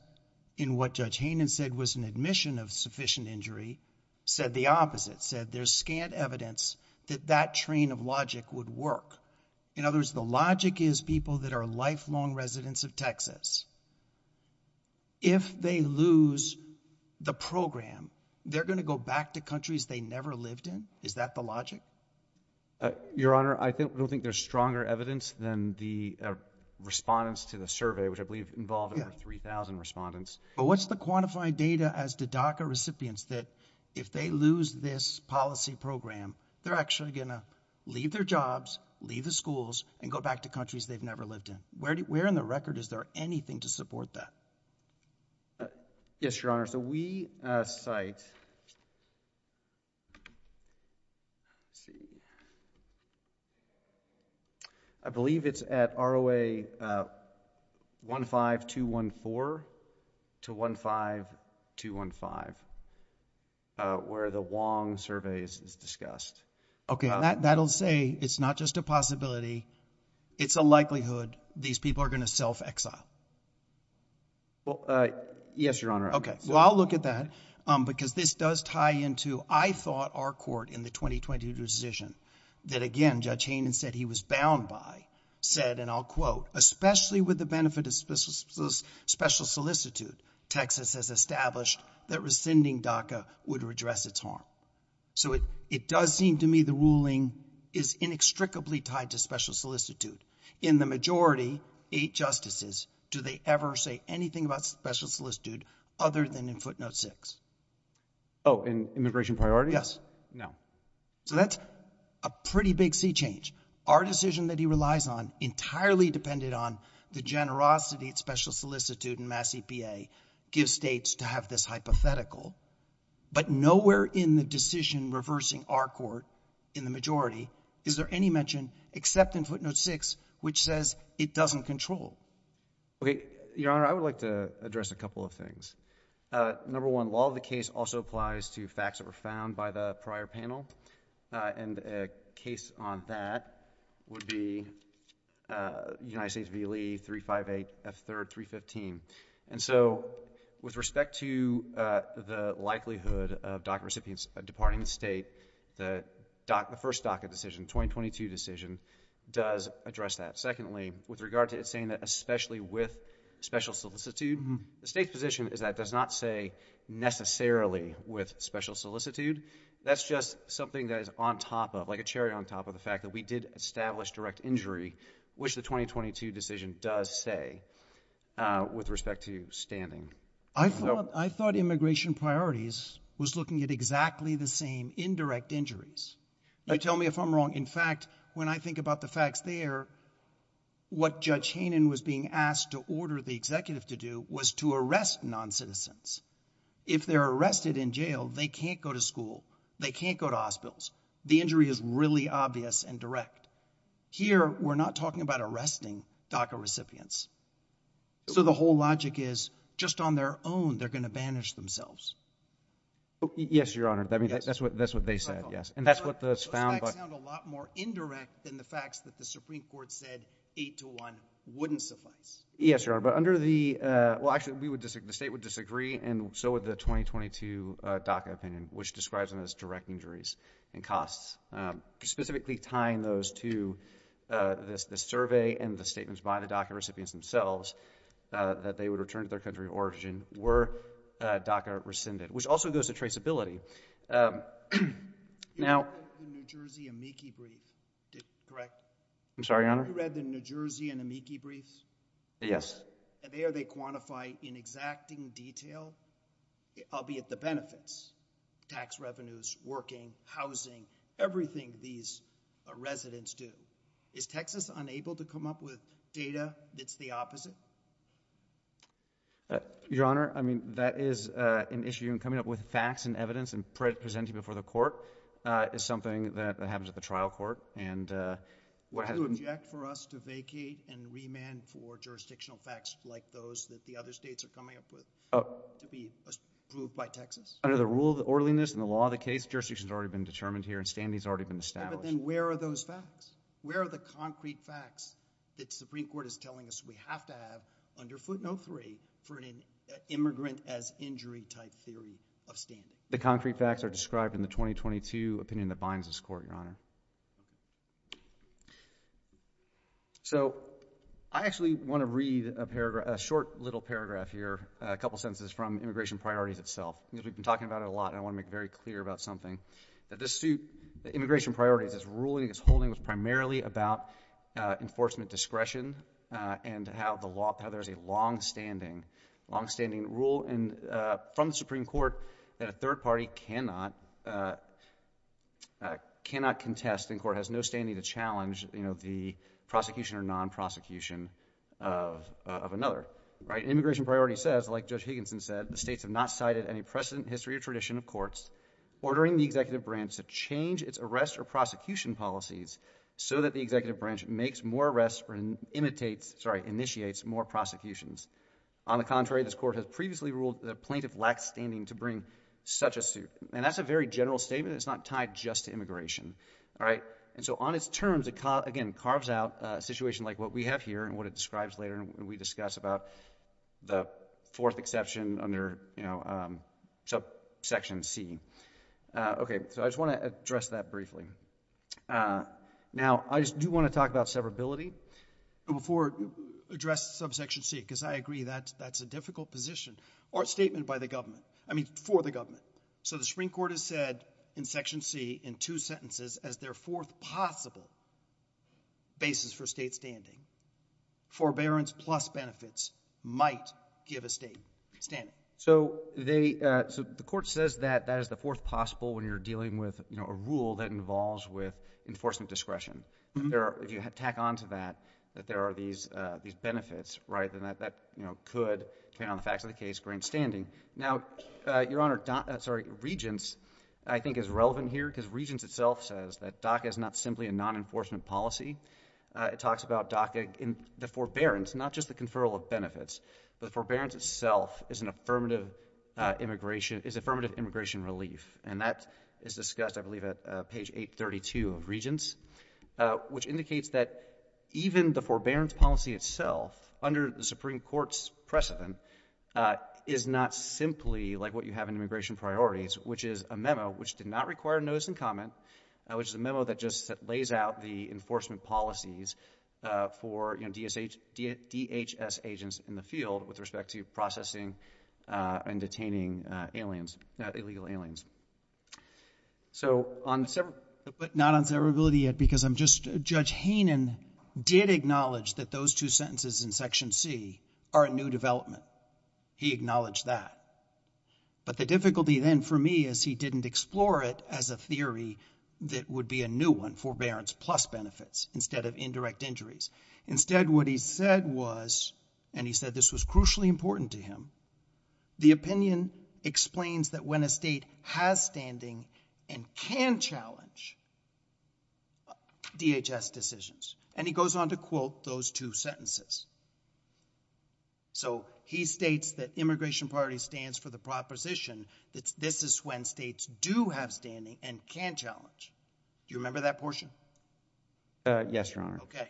in what Judge Hayden said was an admission of sufficient injury, said the opposite, said there's scant evidence that that train of logic would work. In other words, the logic is people that are lifelong residents of Texas. If they lose the program, they're going to go back to countries they never lived in? Is that the logic? Your Honor, I don't think there's stronger evidence than the respondents to the survey, which I believe involved over 3,000 respondents. But what's the quantified data as the DACA recipients that if they lose this policy program, they're actually going to leave their jobs, leave the schools, and go back to countries they've never lived in? Where in the record is there anything to support that? Yes, Your Honor, so we cite, I believe it's at ROA 15214 to 15215, where the Wong survey is discussed. Okay, that'll say it's not just a possibility, it's a likelihood these people are going to self-exile. Well, yes, Your Honor. Okay, well, I'll look at that because this does tie into, I thought our court in the 2020 decision that, again, Judge Hayden said he was bound by, said, and I'll quote, especially with the benefit of special solicitude, Texas has established that rescinding DACA would redress its harm. So it does seem to me the ruling is inextricably tied to special solicitude. In the majority, eight justices, do they ever say anything about special solicitude other than in footnote six? Oh, in immigration priority? Yes. No. So that's a pretty big sea change. Our decision that he relies on entirely depended on the generosity of special solicitude and mass EPA gives states to have this hypothetical. But nowhere in the decision reversing our court in the majority is there any mention except in footnote six, which says it doesn't control. Okay, Your Honor, I would like to address a couple of things. Number one, law of the case also applies to facts that were found by the prior panel. And a case on that would be United States v. Lee, 358, F-3rd, 315. And so with respect to the likelihood of DACA recipients departing the state, the first DACA decision, 2022 decision, does address that. Secondly, with regard to saying that especially with special solicitude, the state's position is that does not say necessarily with special solicitude. That's just something that is on top of, like a cherry on top of the fact that we did establish direct injury, which the 2022 decision does say with respect to standing. I thought immigration priorities was looking at exactly the same indirect injuries. Tell me if I'm wrong. In fact, when I think about the facts there, what Judge Hanen was being asked to order the executive to do was to arrest non-citizens. If they're arrested in jail, they can't go to school. They can't go to hospitals. The injury is really obvious and direct. Here, we're not talking about arresting DACA recipients. So the whole logic is just on their own, they're going to banish themselves. Yes, Your Honor. That's what they said, yes. And that's what was found. I found a lot more indirect than the facts that the Supreme Court said eight to one wouldn't suffice. Yes, Your Honor. But under the, well, actually, the state would disagree, and so would the 2022 DACA opinion, which describes them as direct injuries and costs, specifically tying those to the survey and the statements by the DACA recipients themselves, that they would return to their country of origin were DACA rescinded, which also goes to traceability. Now- You read the New Jersey and Amici briefs, correct? I'm sorry, Your Honor? You read the New Jersey and Amici briefs? Yes. And there, they quantify in exacting detail, albeit the benefits, tax revenues, working, housing, everything these residents do. Is Texas unable to come up with data that's the opposite? Your Honor, I mean, that is an issue. And coming up with facts and evidence and presenting before the court is something that happens at the trial court. And what has- Do you object for us to vacate and remand for jurisdictional facts like those that the other states are coming up with to be approved by Texas? Under the rule of orderliness and the law of the case, jurisdiction has already been determined here, and standing has already been established. But then where are those facts? Where are the concrete facts that the Supreme Court is telling us we have to have under footnote three for an immigrant as injury type theory of standing? The concrete facts are described in the 2022 opinion that binds this court, Your Honor. So I actually want to read a paragraph, a short little paragraph here, a couple sentences from immigration priorities itself, because we've been talking about it a lot, and I want to make very clear about something. That this suit, the immigration priority, this ruling, this holding was primarily about enforcement discretion and to have the law have a longstanding rule from the Supreme Court that a third party cannot contest. The court has no standing to challenge the prosecution or non-prosecution of another. Immigration priority says, like Judge Higginson said, the states have not cited any precedent, history, or tradition of courts ordering the executive branch to change its arrest or prosecution policies so that the executive branch makes more arrests or imitates, sorry, initiates more prosecutions. On the contrary, this court has previously ruled the plaintiff lacks standing to bring such a suit. And that's a very general statement. It's not tied just to immigration, all right? And so on its terms, it again carves out a situation like what we have here and what it describes later when we discuss the fourth exception under subsection C. Okay, so I just want to address that briefly. Now, I do want to talk about severability before I address subsection C, because I agree that's a difficult position or statement by the government, I mean for the government. So the Supreme Court has said in section C in two sentences as their fourth possible basis for state standing, forbearance plus benefits might give a state standing. So they, so the court says that that is the fourth possible when you're dealing with, you know, a rule that involves with enforcement discretion. If you tack on to that, that there are these benefits, right, then that, you know, could count on the fact that the case brings standing. Now, Your Honor, sorry, Regents, I think is relevant here because Regents itself says that DACA is not simply a non-enforcement policy. It talks about DACA in the forbearance, not just the conferral of benefits, but forbearance itself is an affirmative immigration, is affirmative immigration relief, and that is discussed, I believe, at page 832 of Regents, which indicates that even the forbearance policy itself under the Supreme Court's precedent is not simply like what you have in immigration priorities, which is a memo which did not require notice and comment, which is a memo that just lays out the enforcement policies for, you know, DHS agents in the field with respect to processing and detaining aliens, illegal aliens. So on several, not on severability yet because I'm just, Judge Heenan did acknowledge that those two sentences in Section C are a new development. He acknowledged that, but the difficulty then for me is he didn't explore it as a theory that would be a new one, forbearance plus benefits, instead of indirect injuries. Instead what he said was, and he said this was crucially important to him, the opinion explains that when a state has standing and can challenge DHS decisions, and he goes on to quote those two sentences. So he states that immigration priority stands for the proposition that this is when states do have standing and can challenge. Do you remember that portion? Yes, Your Honor. Okay,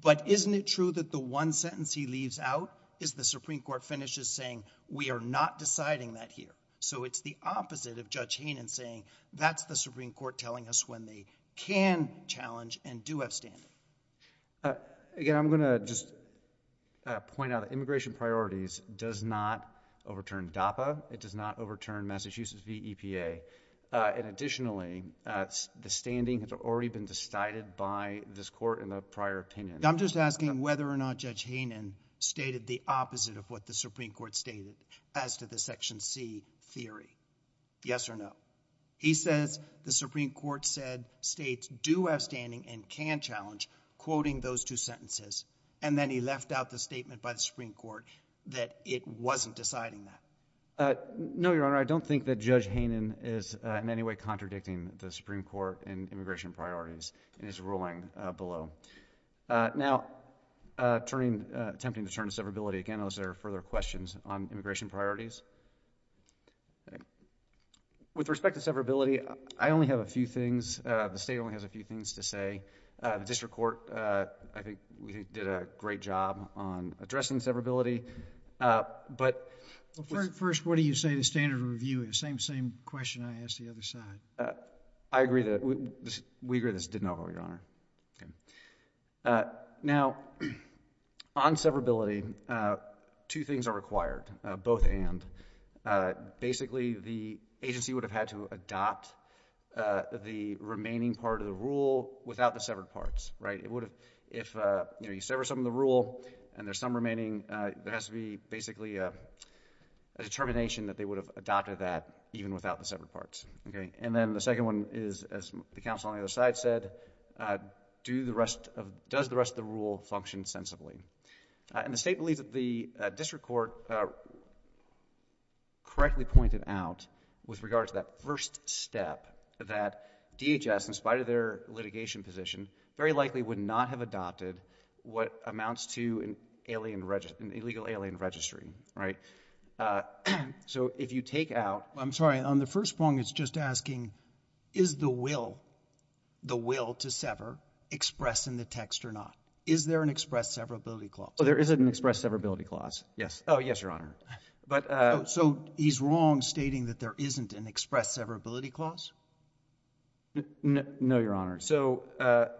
but isn't it true that the one sentence he leaves out is the Supreme Court finishes saying we are not deciding that here. So it's the opposite of Judge Heenan saying that's the Supreme Court telling us when they can challenge and do have standing. Again, I'm going to just point out immigration priorities does not overturn DAPA. It does not overturn Massachusetts v. EPA, and additionally, the standing has already been decided by this court in a prior opinion. I'm just asking whether or not Judge Heenan stated the opposite of what the Supreme Court stated as to the Section C theory. Yes or no? He says the Supreme Court said states do have standing and can challenge, quoting those two sentences, and then he left out the statement by the Supreme Court that it wasn't deciding that. No, Your Honor. I don't think that Judge Heenan is in any way contradicting the Supreme Court and immigration priorities in his ruling below. Now, attempting to turn to severability, again, are there further questions on immigration priorities? With respect to severability, I only have a few things. The state only has a few things to say. The district court, I think, did a great job on addressing severability, but... First, what do you say the standard of review is? Same question I asked the other side. I agree that we agree this didn't overrule, Your Honor. Now, on severability, two things are required, both and. Basically, the agency would have had to adopt the remaining part of the rule without the severed parts, right? If you sever some of the rule and there's some remaining, there has to be basically a determination that they would have adopted that even without the severed parts, okay? And then the second one is, as the counsel on the other side said, does the rest of the rule function sensibly? And the state believed that the district court correctly pointed out with regard to that first step that DHS, in spite of their litigation position, very likely would not have adopted what amounts to an illegal alien registry, right? So if you take out... I'm sorry. On the first point, it's just asking, is the will to sever expressed in the text or not? Is there an express severability clause? There isn't an express severability clause. Yes. Oh, yes, Your Honor. So he's wrong stating that there isn't an express severability clause? No, Your Honor. So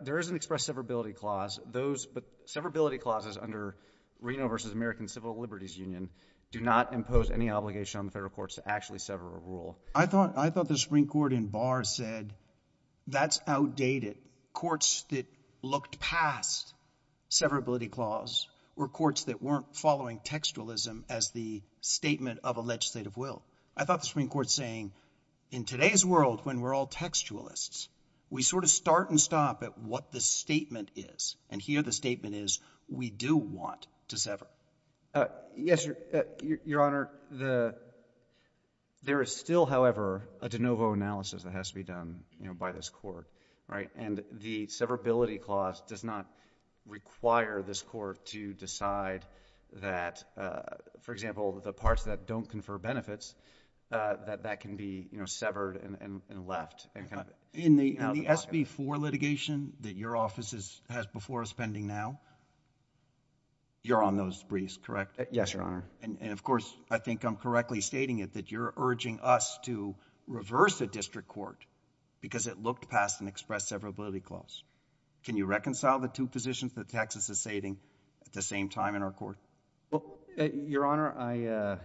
there is an express severability clause. Those severability clauses under Reno v. American Civil Liberties Union do not impose any obligation on the federal courts to actually sever a rule. I thought the Supreme Court in Barr said that's outdated. Courts that passed severability clause were courts that weren't following textualism as the statement of a legislative will. I thought the Supreme Court was saying, in today's world, when we're all textualists, we sort of start and stop at what the statement is. And here the statement is, we do want to sever. Yes, Your Honor. There is still, however, a de novo analysis that has to be by this court. And the severability clause does not require this court to decide that, for example, the parts that don't confer benefits, that that can be severed and left. In the SB4 litigation that your office has before us pending now, you're on those briefs, correct? Yes, Your Honor. And of course, I think I'm correctly stating it, that you're urging us to reverse the district court because it looked past an express severability clause. Can you reconcile the two positions that Texas is stating at the same time in our court? Well, Your Honor,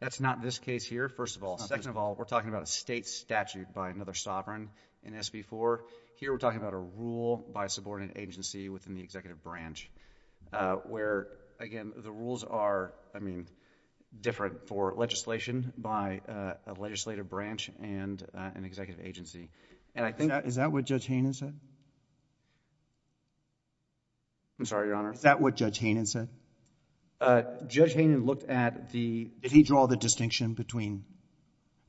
that's not this case here, first of all. Second of all, we're talking about a state statute by another sovereign in SB4. Here we're talking about a rule by a subordinate agency within the executive branch where, again, the rules are, I mean, for legislation by a legislative branch and an executive agency. And I think... Is that what Judge Hayden said? I'm sorry, Your Honor. Is that what Judge Hayden said? Judge Hayden looked at the... Did he draw the distinction between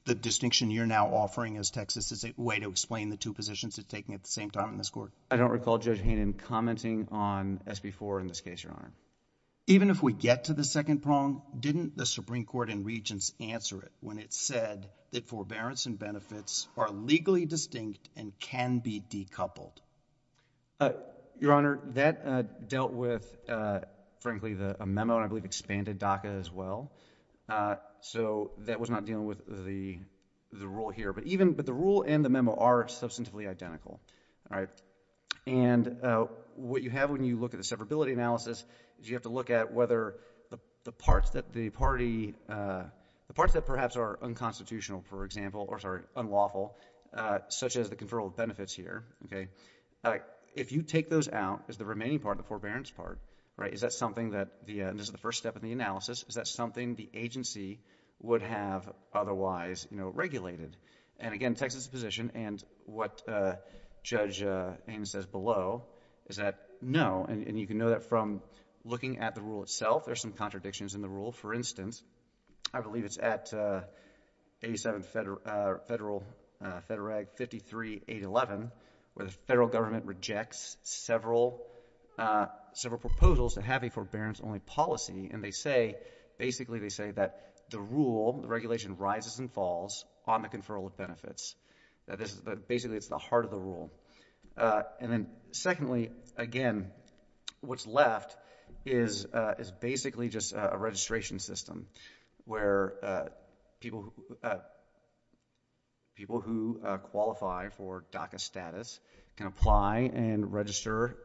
the distinction you're now offering as Texas as a way to explain the two positions it's taking at the same time in this court? I don't recall Judge Hayden commenting on SB4 in this case, Your Honor. Even if we get to the second poem, didn't the Supreme Court in Regents answer it when it said that forbearance and benefits are legally distinct and can be decoupled? Your Honor, that dealt with, frankly, a memo that expanded DACA as well. So that was not dealing with the rule here. But even... But the rule and the memo are substantively identical, all right? And what you have when you look at the parts that the party... The parts that perhaps are unconstitutional, for example, or, sorry, unlawful, such as the conferral of benefits here, okay, if you take those out as the remaining part, the forbearance part, right, is that something that the... And this is the first step in the analysis. Is that something the agency would have otherwise, you know, regulated? And again, Texas's position and what Judge Hayden says below is that no. And you can know that from looking at the rule itself. There's some contradictions in the rule. For instance, I believe it's at 87 Federal... Federal... Federal Act 53-811, where the federal government rejects several... Several proposals to have a forbearance-only policy. And they say... Basically, they say that the rule, the regulation, rises and falls on the conferral of benefits. Basically, it's the heart of the rule. And then secondly, again, what's left is basically just a registration system where people who... People who qualify for DACA status can apply and register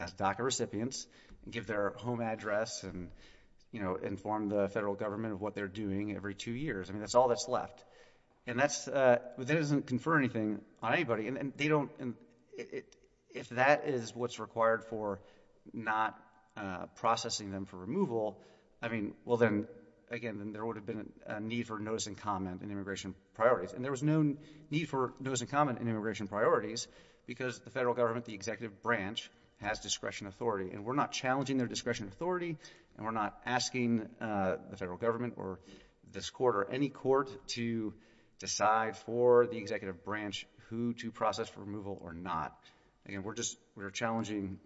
as DACA recipients, give their home address and, you know, inform the federal government of what they're doing every two years. I mean, that's all that's left. And that's... That doesn't confer anything on anybody. And they don't... If that is what's required for not processing them for removal, I mean, well, then, again, then there would have been a need for a notice in common in immigration priorities. And there was no need for notice in common in immigration priorities because the federal government, the executive branch, has discretion authority. And we're not challenging their discretion authority, and we're not asking the federal government or this court or any court to decide for the executive branch who to process for removal or not. Again, we're just... We're challenging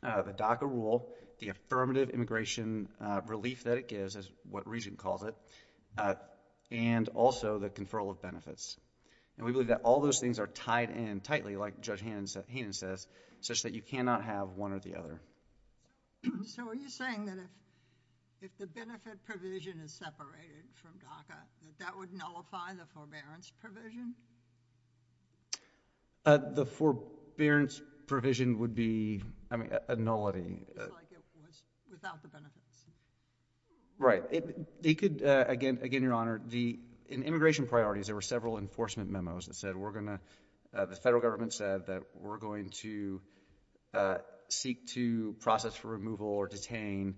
the DACA rule, the affirmative immigration relief that it gives, as what Regent called it, and also the conferral of benefits. And we believe that all those things are tied in tightly, like Judge Hannon says, such that you cannot have one or the other. So are you saying that if the benefit provision is separated from DACA, that that would nullify the forbearance provision? The forbearance provision would be, I mean, a nullity. It's like it was without the benefit. Right. It could... Again, Your Honor, the... In immigration priorities, there were several enforcement memos that said, we're going to... The federal government said that we're going to seek to process for removal or detain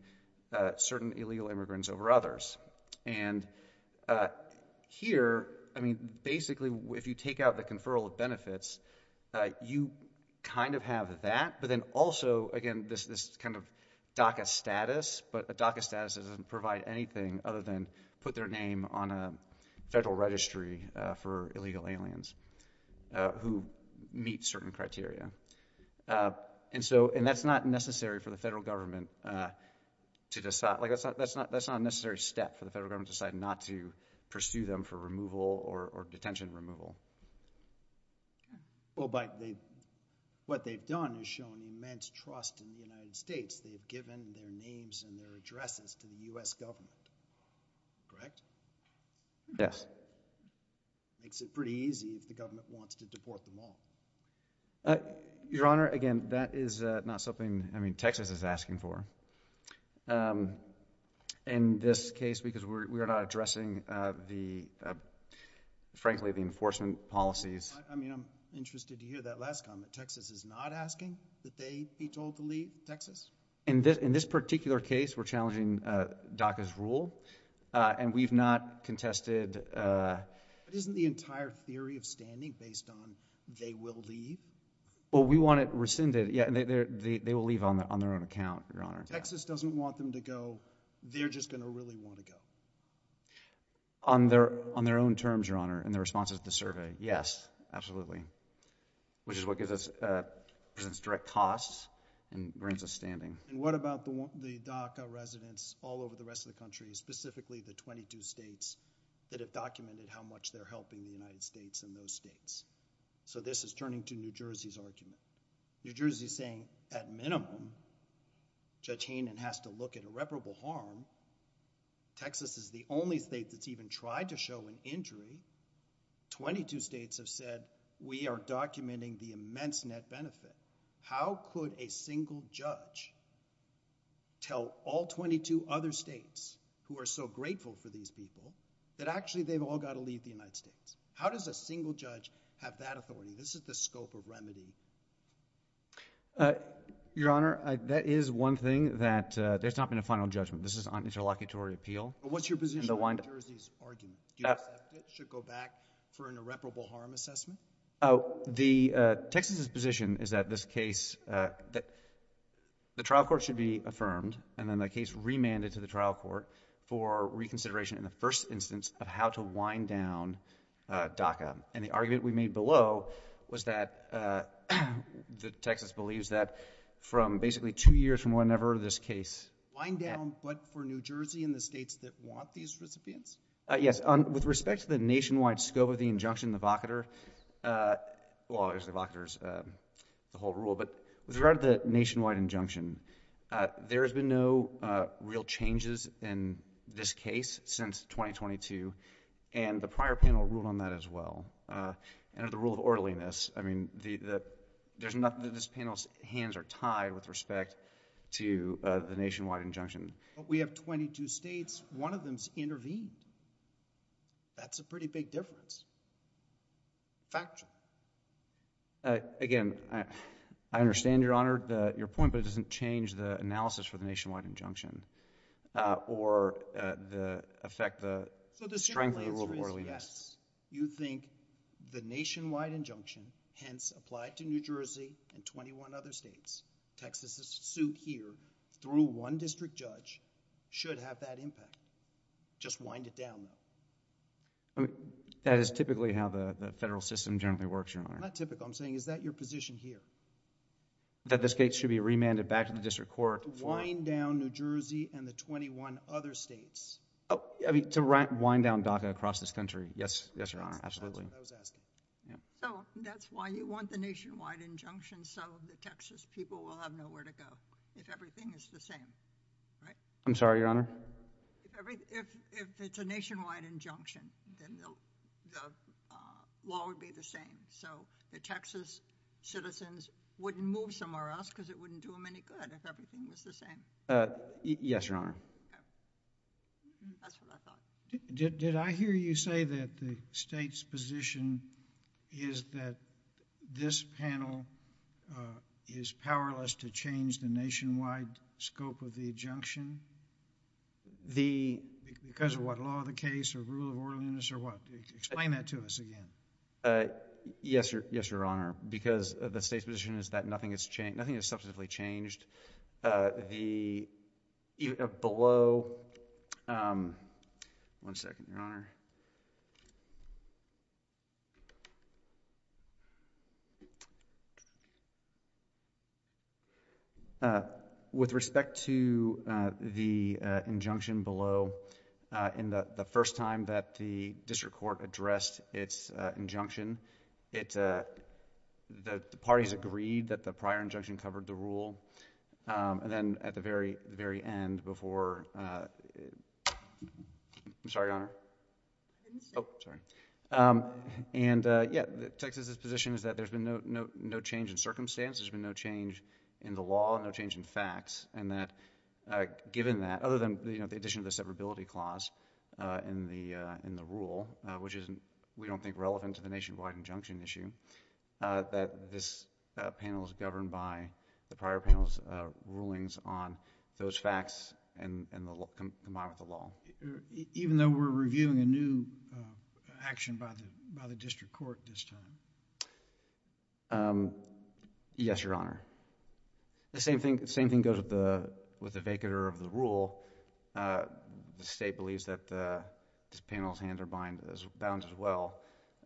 certain illegal immigrants over others. And here, I mean, basically, if you take out the conferral of benefits, you kind of have that, but then also, again, this kind of DACA status, but the DACA status doesn't provide anything other than put their name on a federal registry for illegal aliens who meet certain criteria. And so... And that's not necessary for the federal government to decide. That's not a necessary step for the federal government to decide not to pursue them for removal or detention removal. Well, but what they've done is shown immense trust in the United States. They've given their names and their addresses to the U.S. government. Correct? Yes. Makes it pretty easy if the government wants to deport them all. Your Honor, again, that is not something, I mean, Texas is asking for. In this case, because we're not addressing the, frankly, the enforcement policies. I mean, I'm interested to hear that last comment. Texas is not asking that they be told to leave Texas? In this particular case, we're challenging DACA's rule, and we've not contested... Isn't the entire theory of standing based on they will leave? Well, we want it rescinded. Yeah, they will leave on their own account, Your Honor. Texas doesn't want them to go. They're just going to really want to go. On their own terms, Your Honor, and their responses to the survey. Yes, absolutely. Which is what gives us direct costs and brings us standing. And what about the DACA residents all over the rest of the country, specifically the 22 states that have documented how much they're helping the United States and those states? So this is turning to New Jersey's argument. New Jersey's saying, at minimum, Judge Hainan has to look at irreparable harm. Texas is the only state that's even tried to show an injury. 22 states have said, we are documenting the immense net benefit. How could a single judge tell all 22 other states who are so grateful for these people that actually they've all got to leave the United States? How does a single judge have that authority? This is the scope of remedy. Your Honor, that is one thing that there's not been a final judgment. This is an interlocutory appeal. But what's your position on New Jersey's argument? Do you expect it should go back for an irreparable harm assessment? Oh, Texas's position is that this case, that the trial court should be affirmed, and then the case remanded to the trial court for reconsideration in the first instance of how to wind down DACA. And the argument we made below was that, that Texas believes that from basically two years from whenever this case Wind down, but for New Jersey and the states that want these recipients? Yes, with respect to the nationwide scope of the injunction, the evocator, uh, well obviously evocators, uh, the whole rule, but with regard to the nationwide injunction, uh, there has been no, uh, real changes in this case since 2022. And the prior panel ruled on that as well. Uh, and the rule of orderliness, I mean, the, the, there's nothing that this panel's hands are tied with respect to, uh, the nationwide injunction. But we have 22 states, one of them's intervened. That's a pretty big difference. Factual. Uh, again, I, I understand, Your Honor, that your point doesn't change the analysis for the nationwide injunction, uh, or, uh, the effect, the strength of the rule of orderliness. You think the nationwide injunction, hence applied to New Jersey and 21 other states, Texas, the suit here, through one district judge, should have that impact. Just wind it down. I mean, that is typically how the federal system generally works, Your Honor. Not typical. I'm saying, is that your position here? That the state should be remanded back to the district court. Wind down New Jersey and the 21 other states. Oh, I mean, to wind down DACA across this country. Yes, yes, Your Honor, absolutely. Yeah. So, that's why you want the nationwide injunction so the Texas people will have nowhere to go if everything is the same, right? I'm sorry, Your Honor? If, if, if it's a nationwide injunction, then the, the, uh, law would be the same. So the Texas citizens wouldn't move somewhere else because it wouldn't do them any good if everything was the same. Uh, yes, Your Honor. Did, did I hear you say that the state's position is that this panel, uh, is powerless to change the nationwide scope of the injunction? The, because of what law of the case or rule of orderliness or what? Explain that to us again. Uh, yes, Your, yes, Your Honor, because the state's position is that nothing has changed, nothing has substantively changed. Uh, the, uh, below, um, one second, Your Honor. Uh, with respect to, uh, the, uh, injunction below, uh, in the, the first time that the district court addressed its, uh, injunction, it, uh, the parties agreed that the prior injunction covered the rule, um, and then at the very, very end before, uh, I'm sorry, Your Honor. Oh, sorry. Um, and, uh, yeah, Texas's position is that there's been no, no, no change in circumstances, there's been no change in the law, no change in facts, and that, uh, given that, other than, you know, the addition of the severability clause, uh, in the, uh, in the rule, uh, which isn't, we don't think relevant to the nationwide injunction issue, uh, that this, uh, panel is governed by the prior panel's, uh, rulings on those facts and, and the, the model of the law. Even though we're reviewing a new, uh, action by the, by the district court this time? Um, yes, Your Honor. The same thing, the same thing goes with the, with the vacator of the rule, uh, the state believes that, uh, this panel's hands are bind, bound as well.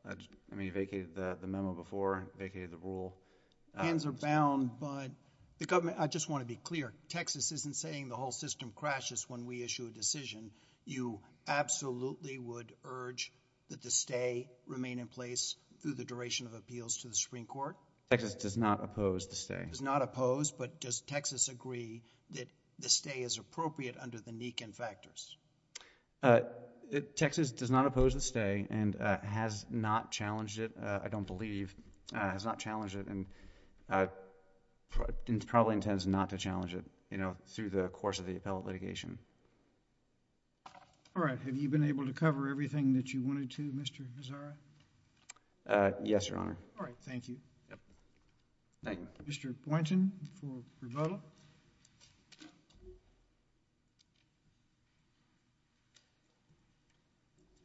I just, I mean, he vacated the, the memo before, vacated the rule. Hands are bound, but the government, I just want to be clear, Texas isn't saying the whole system crashes when we issue a decision. You absolutely would urge that the stay remain in place through the duration of appeals to the Supreme Court? Texas does not oppose the stay. Does not oppose, but does Texas agree that the stay is appropriate under the Nikin factors? Uh, Texas does not oppose the stay and, uh, has not challenged it, uh, I don't believe, uh, has not challenged it and, uh, probably intends not to challenge it, you know, through the course of the appellate litigation. All right. Have you been able to cover everything that you wanted to, Mr. Bezzara? Uh, yes, Your Honor. All right. Thank you. Yep. Mr. Boynton for rebuttal.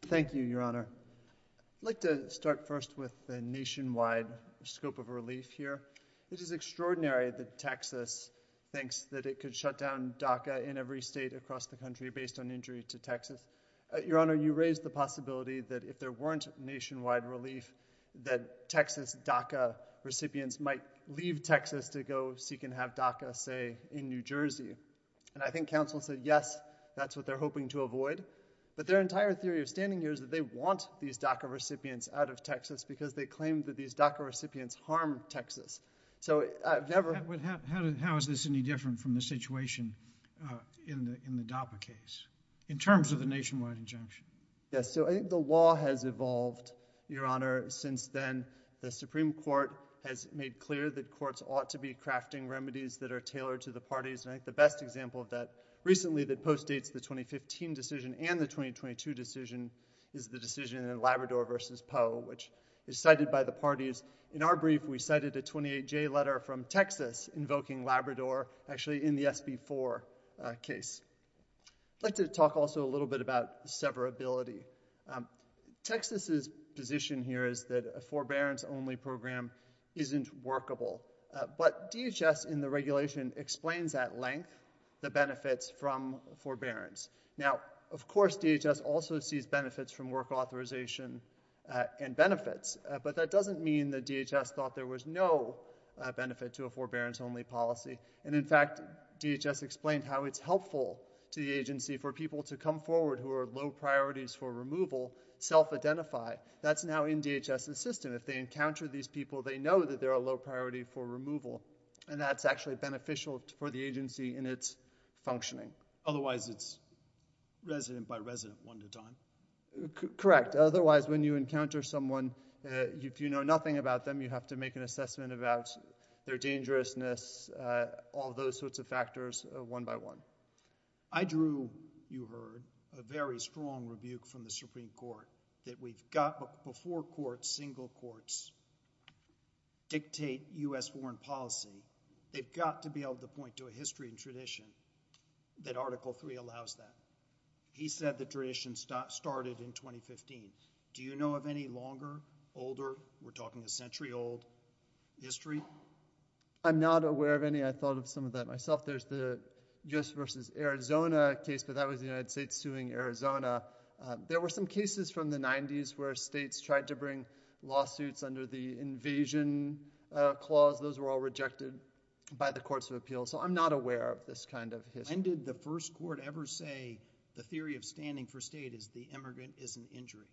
Thank you, Your Honor. I'd like to start first with the nationwide scope of relief here. It is extraordinary that Texas thinks that it could shut down DACA in every state across the country based on injuries to Texas. Uh, Your Honor, you raised the possibility that if there weren't nationwide relief, that Texas DACA recipients might leave Texas to go seek and have DACA stay in New Jersey. And I think counsel said, yes, that's what they're hoping to avoid. But their entire theory of standing here is that they want these DACA recipients out of Texas because they claim that these DACA recipients harmed Texas. So, uh, never... How is this any different from the situation, uh, in the, in the DAPA case in terms of the nationwide injunction? Yes. So I think the law has evolved, Your Honor, since then. The Supreme Court has made clear that courts ought to be crafting remedies that are tailored to the parties. I think the best example of that recently that postdates the 2015 decision and the 2022 decision is the decision in Labrador versus Poe, which is cited by the parties. In our brief, we cited the 28-J letter from Texas invoking Labrador, actually in the SB4, uh, case. I'd like to talk also a little bit about severability. Um, Texas's position here is that a forbearance only program isn't workable. Uh, but DHS in the regulation explains at length the benefits from forbearance. Now, of course, DHS also sees benefits from work authorization, uh, and benefits. Uh, but that doesn't mean that DHS thought there was no, uh, benefit to a forbearance only policy. And in fact, DHS explains how it's helpful to the agency for people to come forward who are low priorities for removal, self-identify. That's now in DHS's system. If they encounter these people, they know that they're a low priority for removal and that's actually beneficial for the agency in its functioning. Otherwise it's resident by resident one to time. Correct. Otherwise, when you encounter someone, uh, if you know nothing about them, you have to make an assessment about their dangerousness, uh, all those sorts of factors, uh, one by one. I drew, you heard, a very strong rebuke from the Supreme Court that we've got before courts, single courts dictate U.S. foreign policy. They've got to be able to point to a history and tradition that Article III allows that. He said the duration started in 2015. Do you know of any longer, older, we're talking a century old history? I'm not aware of any. I thought of some of that myself. There's the U.S. versus Arizona case. So that was the United States suing Arizona. There were some cases from the 90s where states tried to bring lawsuits under the invasion, uh, clause. Those were all rejected by the courts of appeals. So I'm not aware of this kind of history. And did the first court ever say the theory of standing for state is the immigrant is an injury?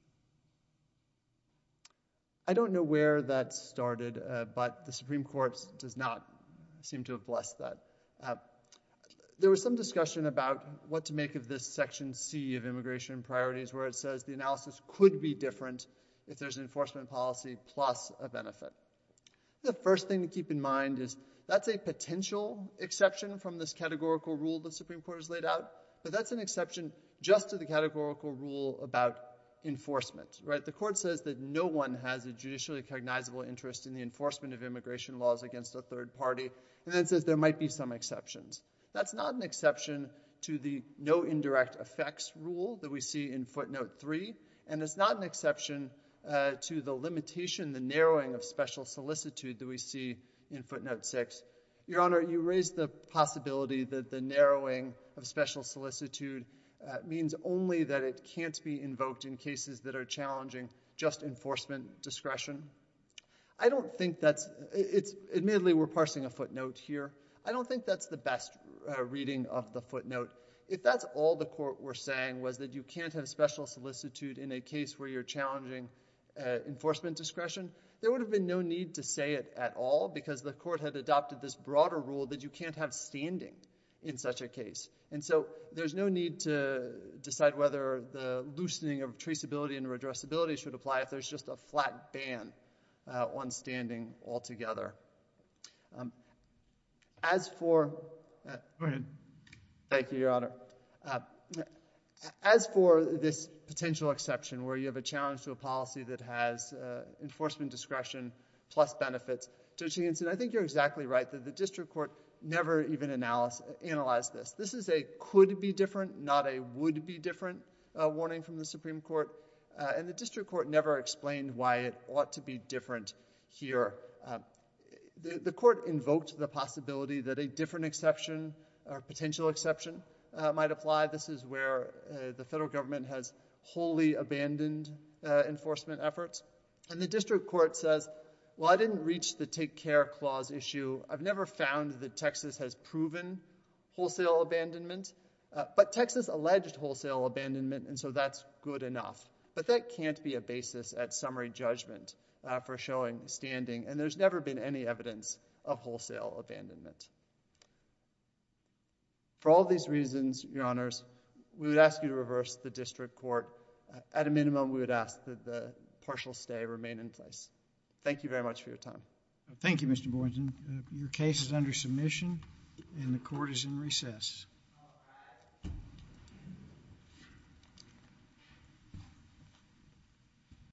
I don't know where that started, uh, but the Supreme Court does not seem to have blessed that. There was some discussion about what to make of this section C of immigration priorities, where it says the analysis could be different if there's an enforcement policy plus a benefit. The first thing to keep in mind is that's a potential exception from this categorical rule the Supreme Court has laid out. So that's an exception just to the categorical rule about enforcement, right? The court says that no one has a judicially recognizable interest in the enforcement of immigration laws against the third party. And then it says there might be some exceptions. That's not an exception to the no indirect effects rule that we see in footnote three. And it's not an exception, uh, to the limitation, the narrowing of special solicitude that we see in footnote six, your honor, you raised the possibility that the narrowing of special solicitude, uh, means only that it can't be invoked in cases that are challenging just enforcement discretion. I don't think that it's admittedly, we're parsing a footnote here. I don't think that's the best reading of the footnote. If that's all the court we're saying was that you can't have special solicitude in a case where you're challenging, uh, enforcement discretion, there would have been no need to say it at all because the court has adopted this broader rule that you can't have standing in such a case. And so there's no need to decide whether the loosening of traceability and redressability should apply if there's just a flat ban, uh, on standing altogether. Um, as for, uh, thank you, your honor. Uh, as for this potential exception where you have a challenge to a policy that has, uh, enforcement discretion plus benefits. So she said, I think you're exactly right that the district court never even analyzed this. This is a could be different, not a would be different, uh, warning from the Supreme court. Uh, and the district court never explained why it ought to be different here. Uh, the court invoked the possibility that a different exception or potential exception, uh, might apply. This is where, uh, the federal government has wholly abandoned, uh, enforcement efforts. And the district court says, well, I didn't reach the take care clause issue. I've never found that Texas has proven wholesale abandonment, uh, but Texas alleged wholesale abandonment. And so that's good enough, but that can't be a basis at summary judgment, uh, for showing standing. And there's never been any evidence of wholesale abandonment for all these reasons. Your honors, we would ask you to reverse the district court at a minimum. We would ask that the partial stay remain in place. Thank you very much for your time. Thank you, Mr. Boyden. Your case is under submission and the court is in recess.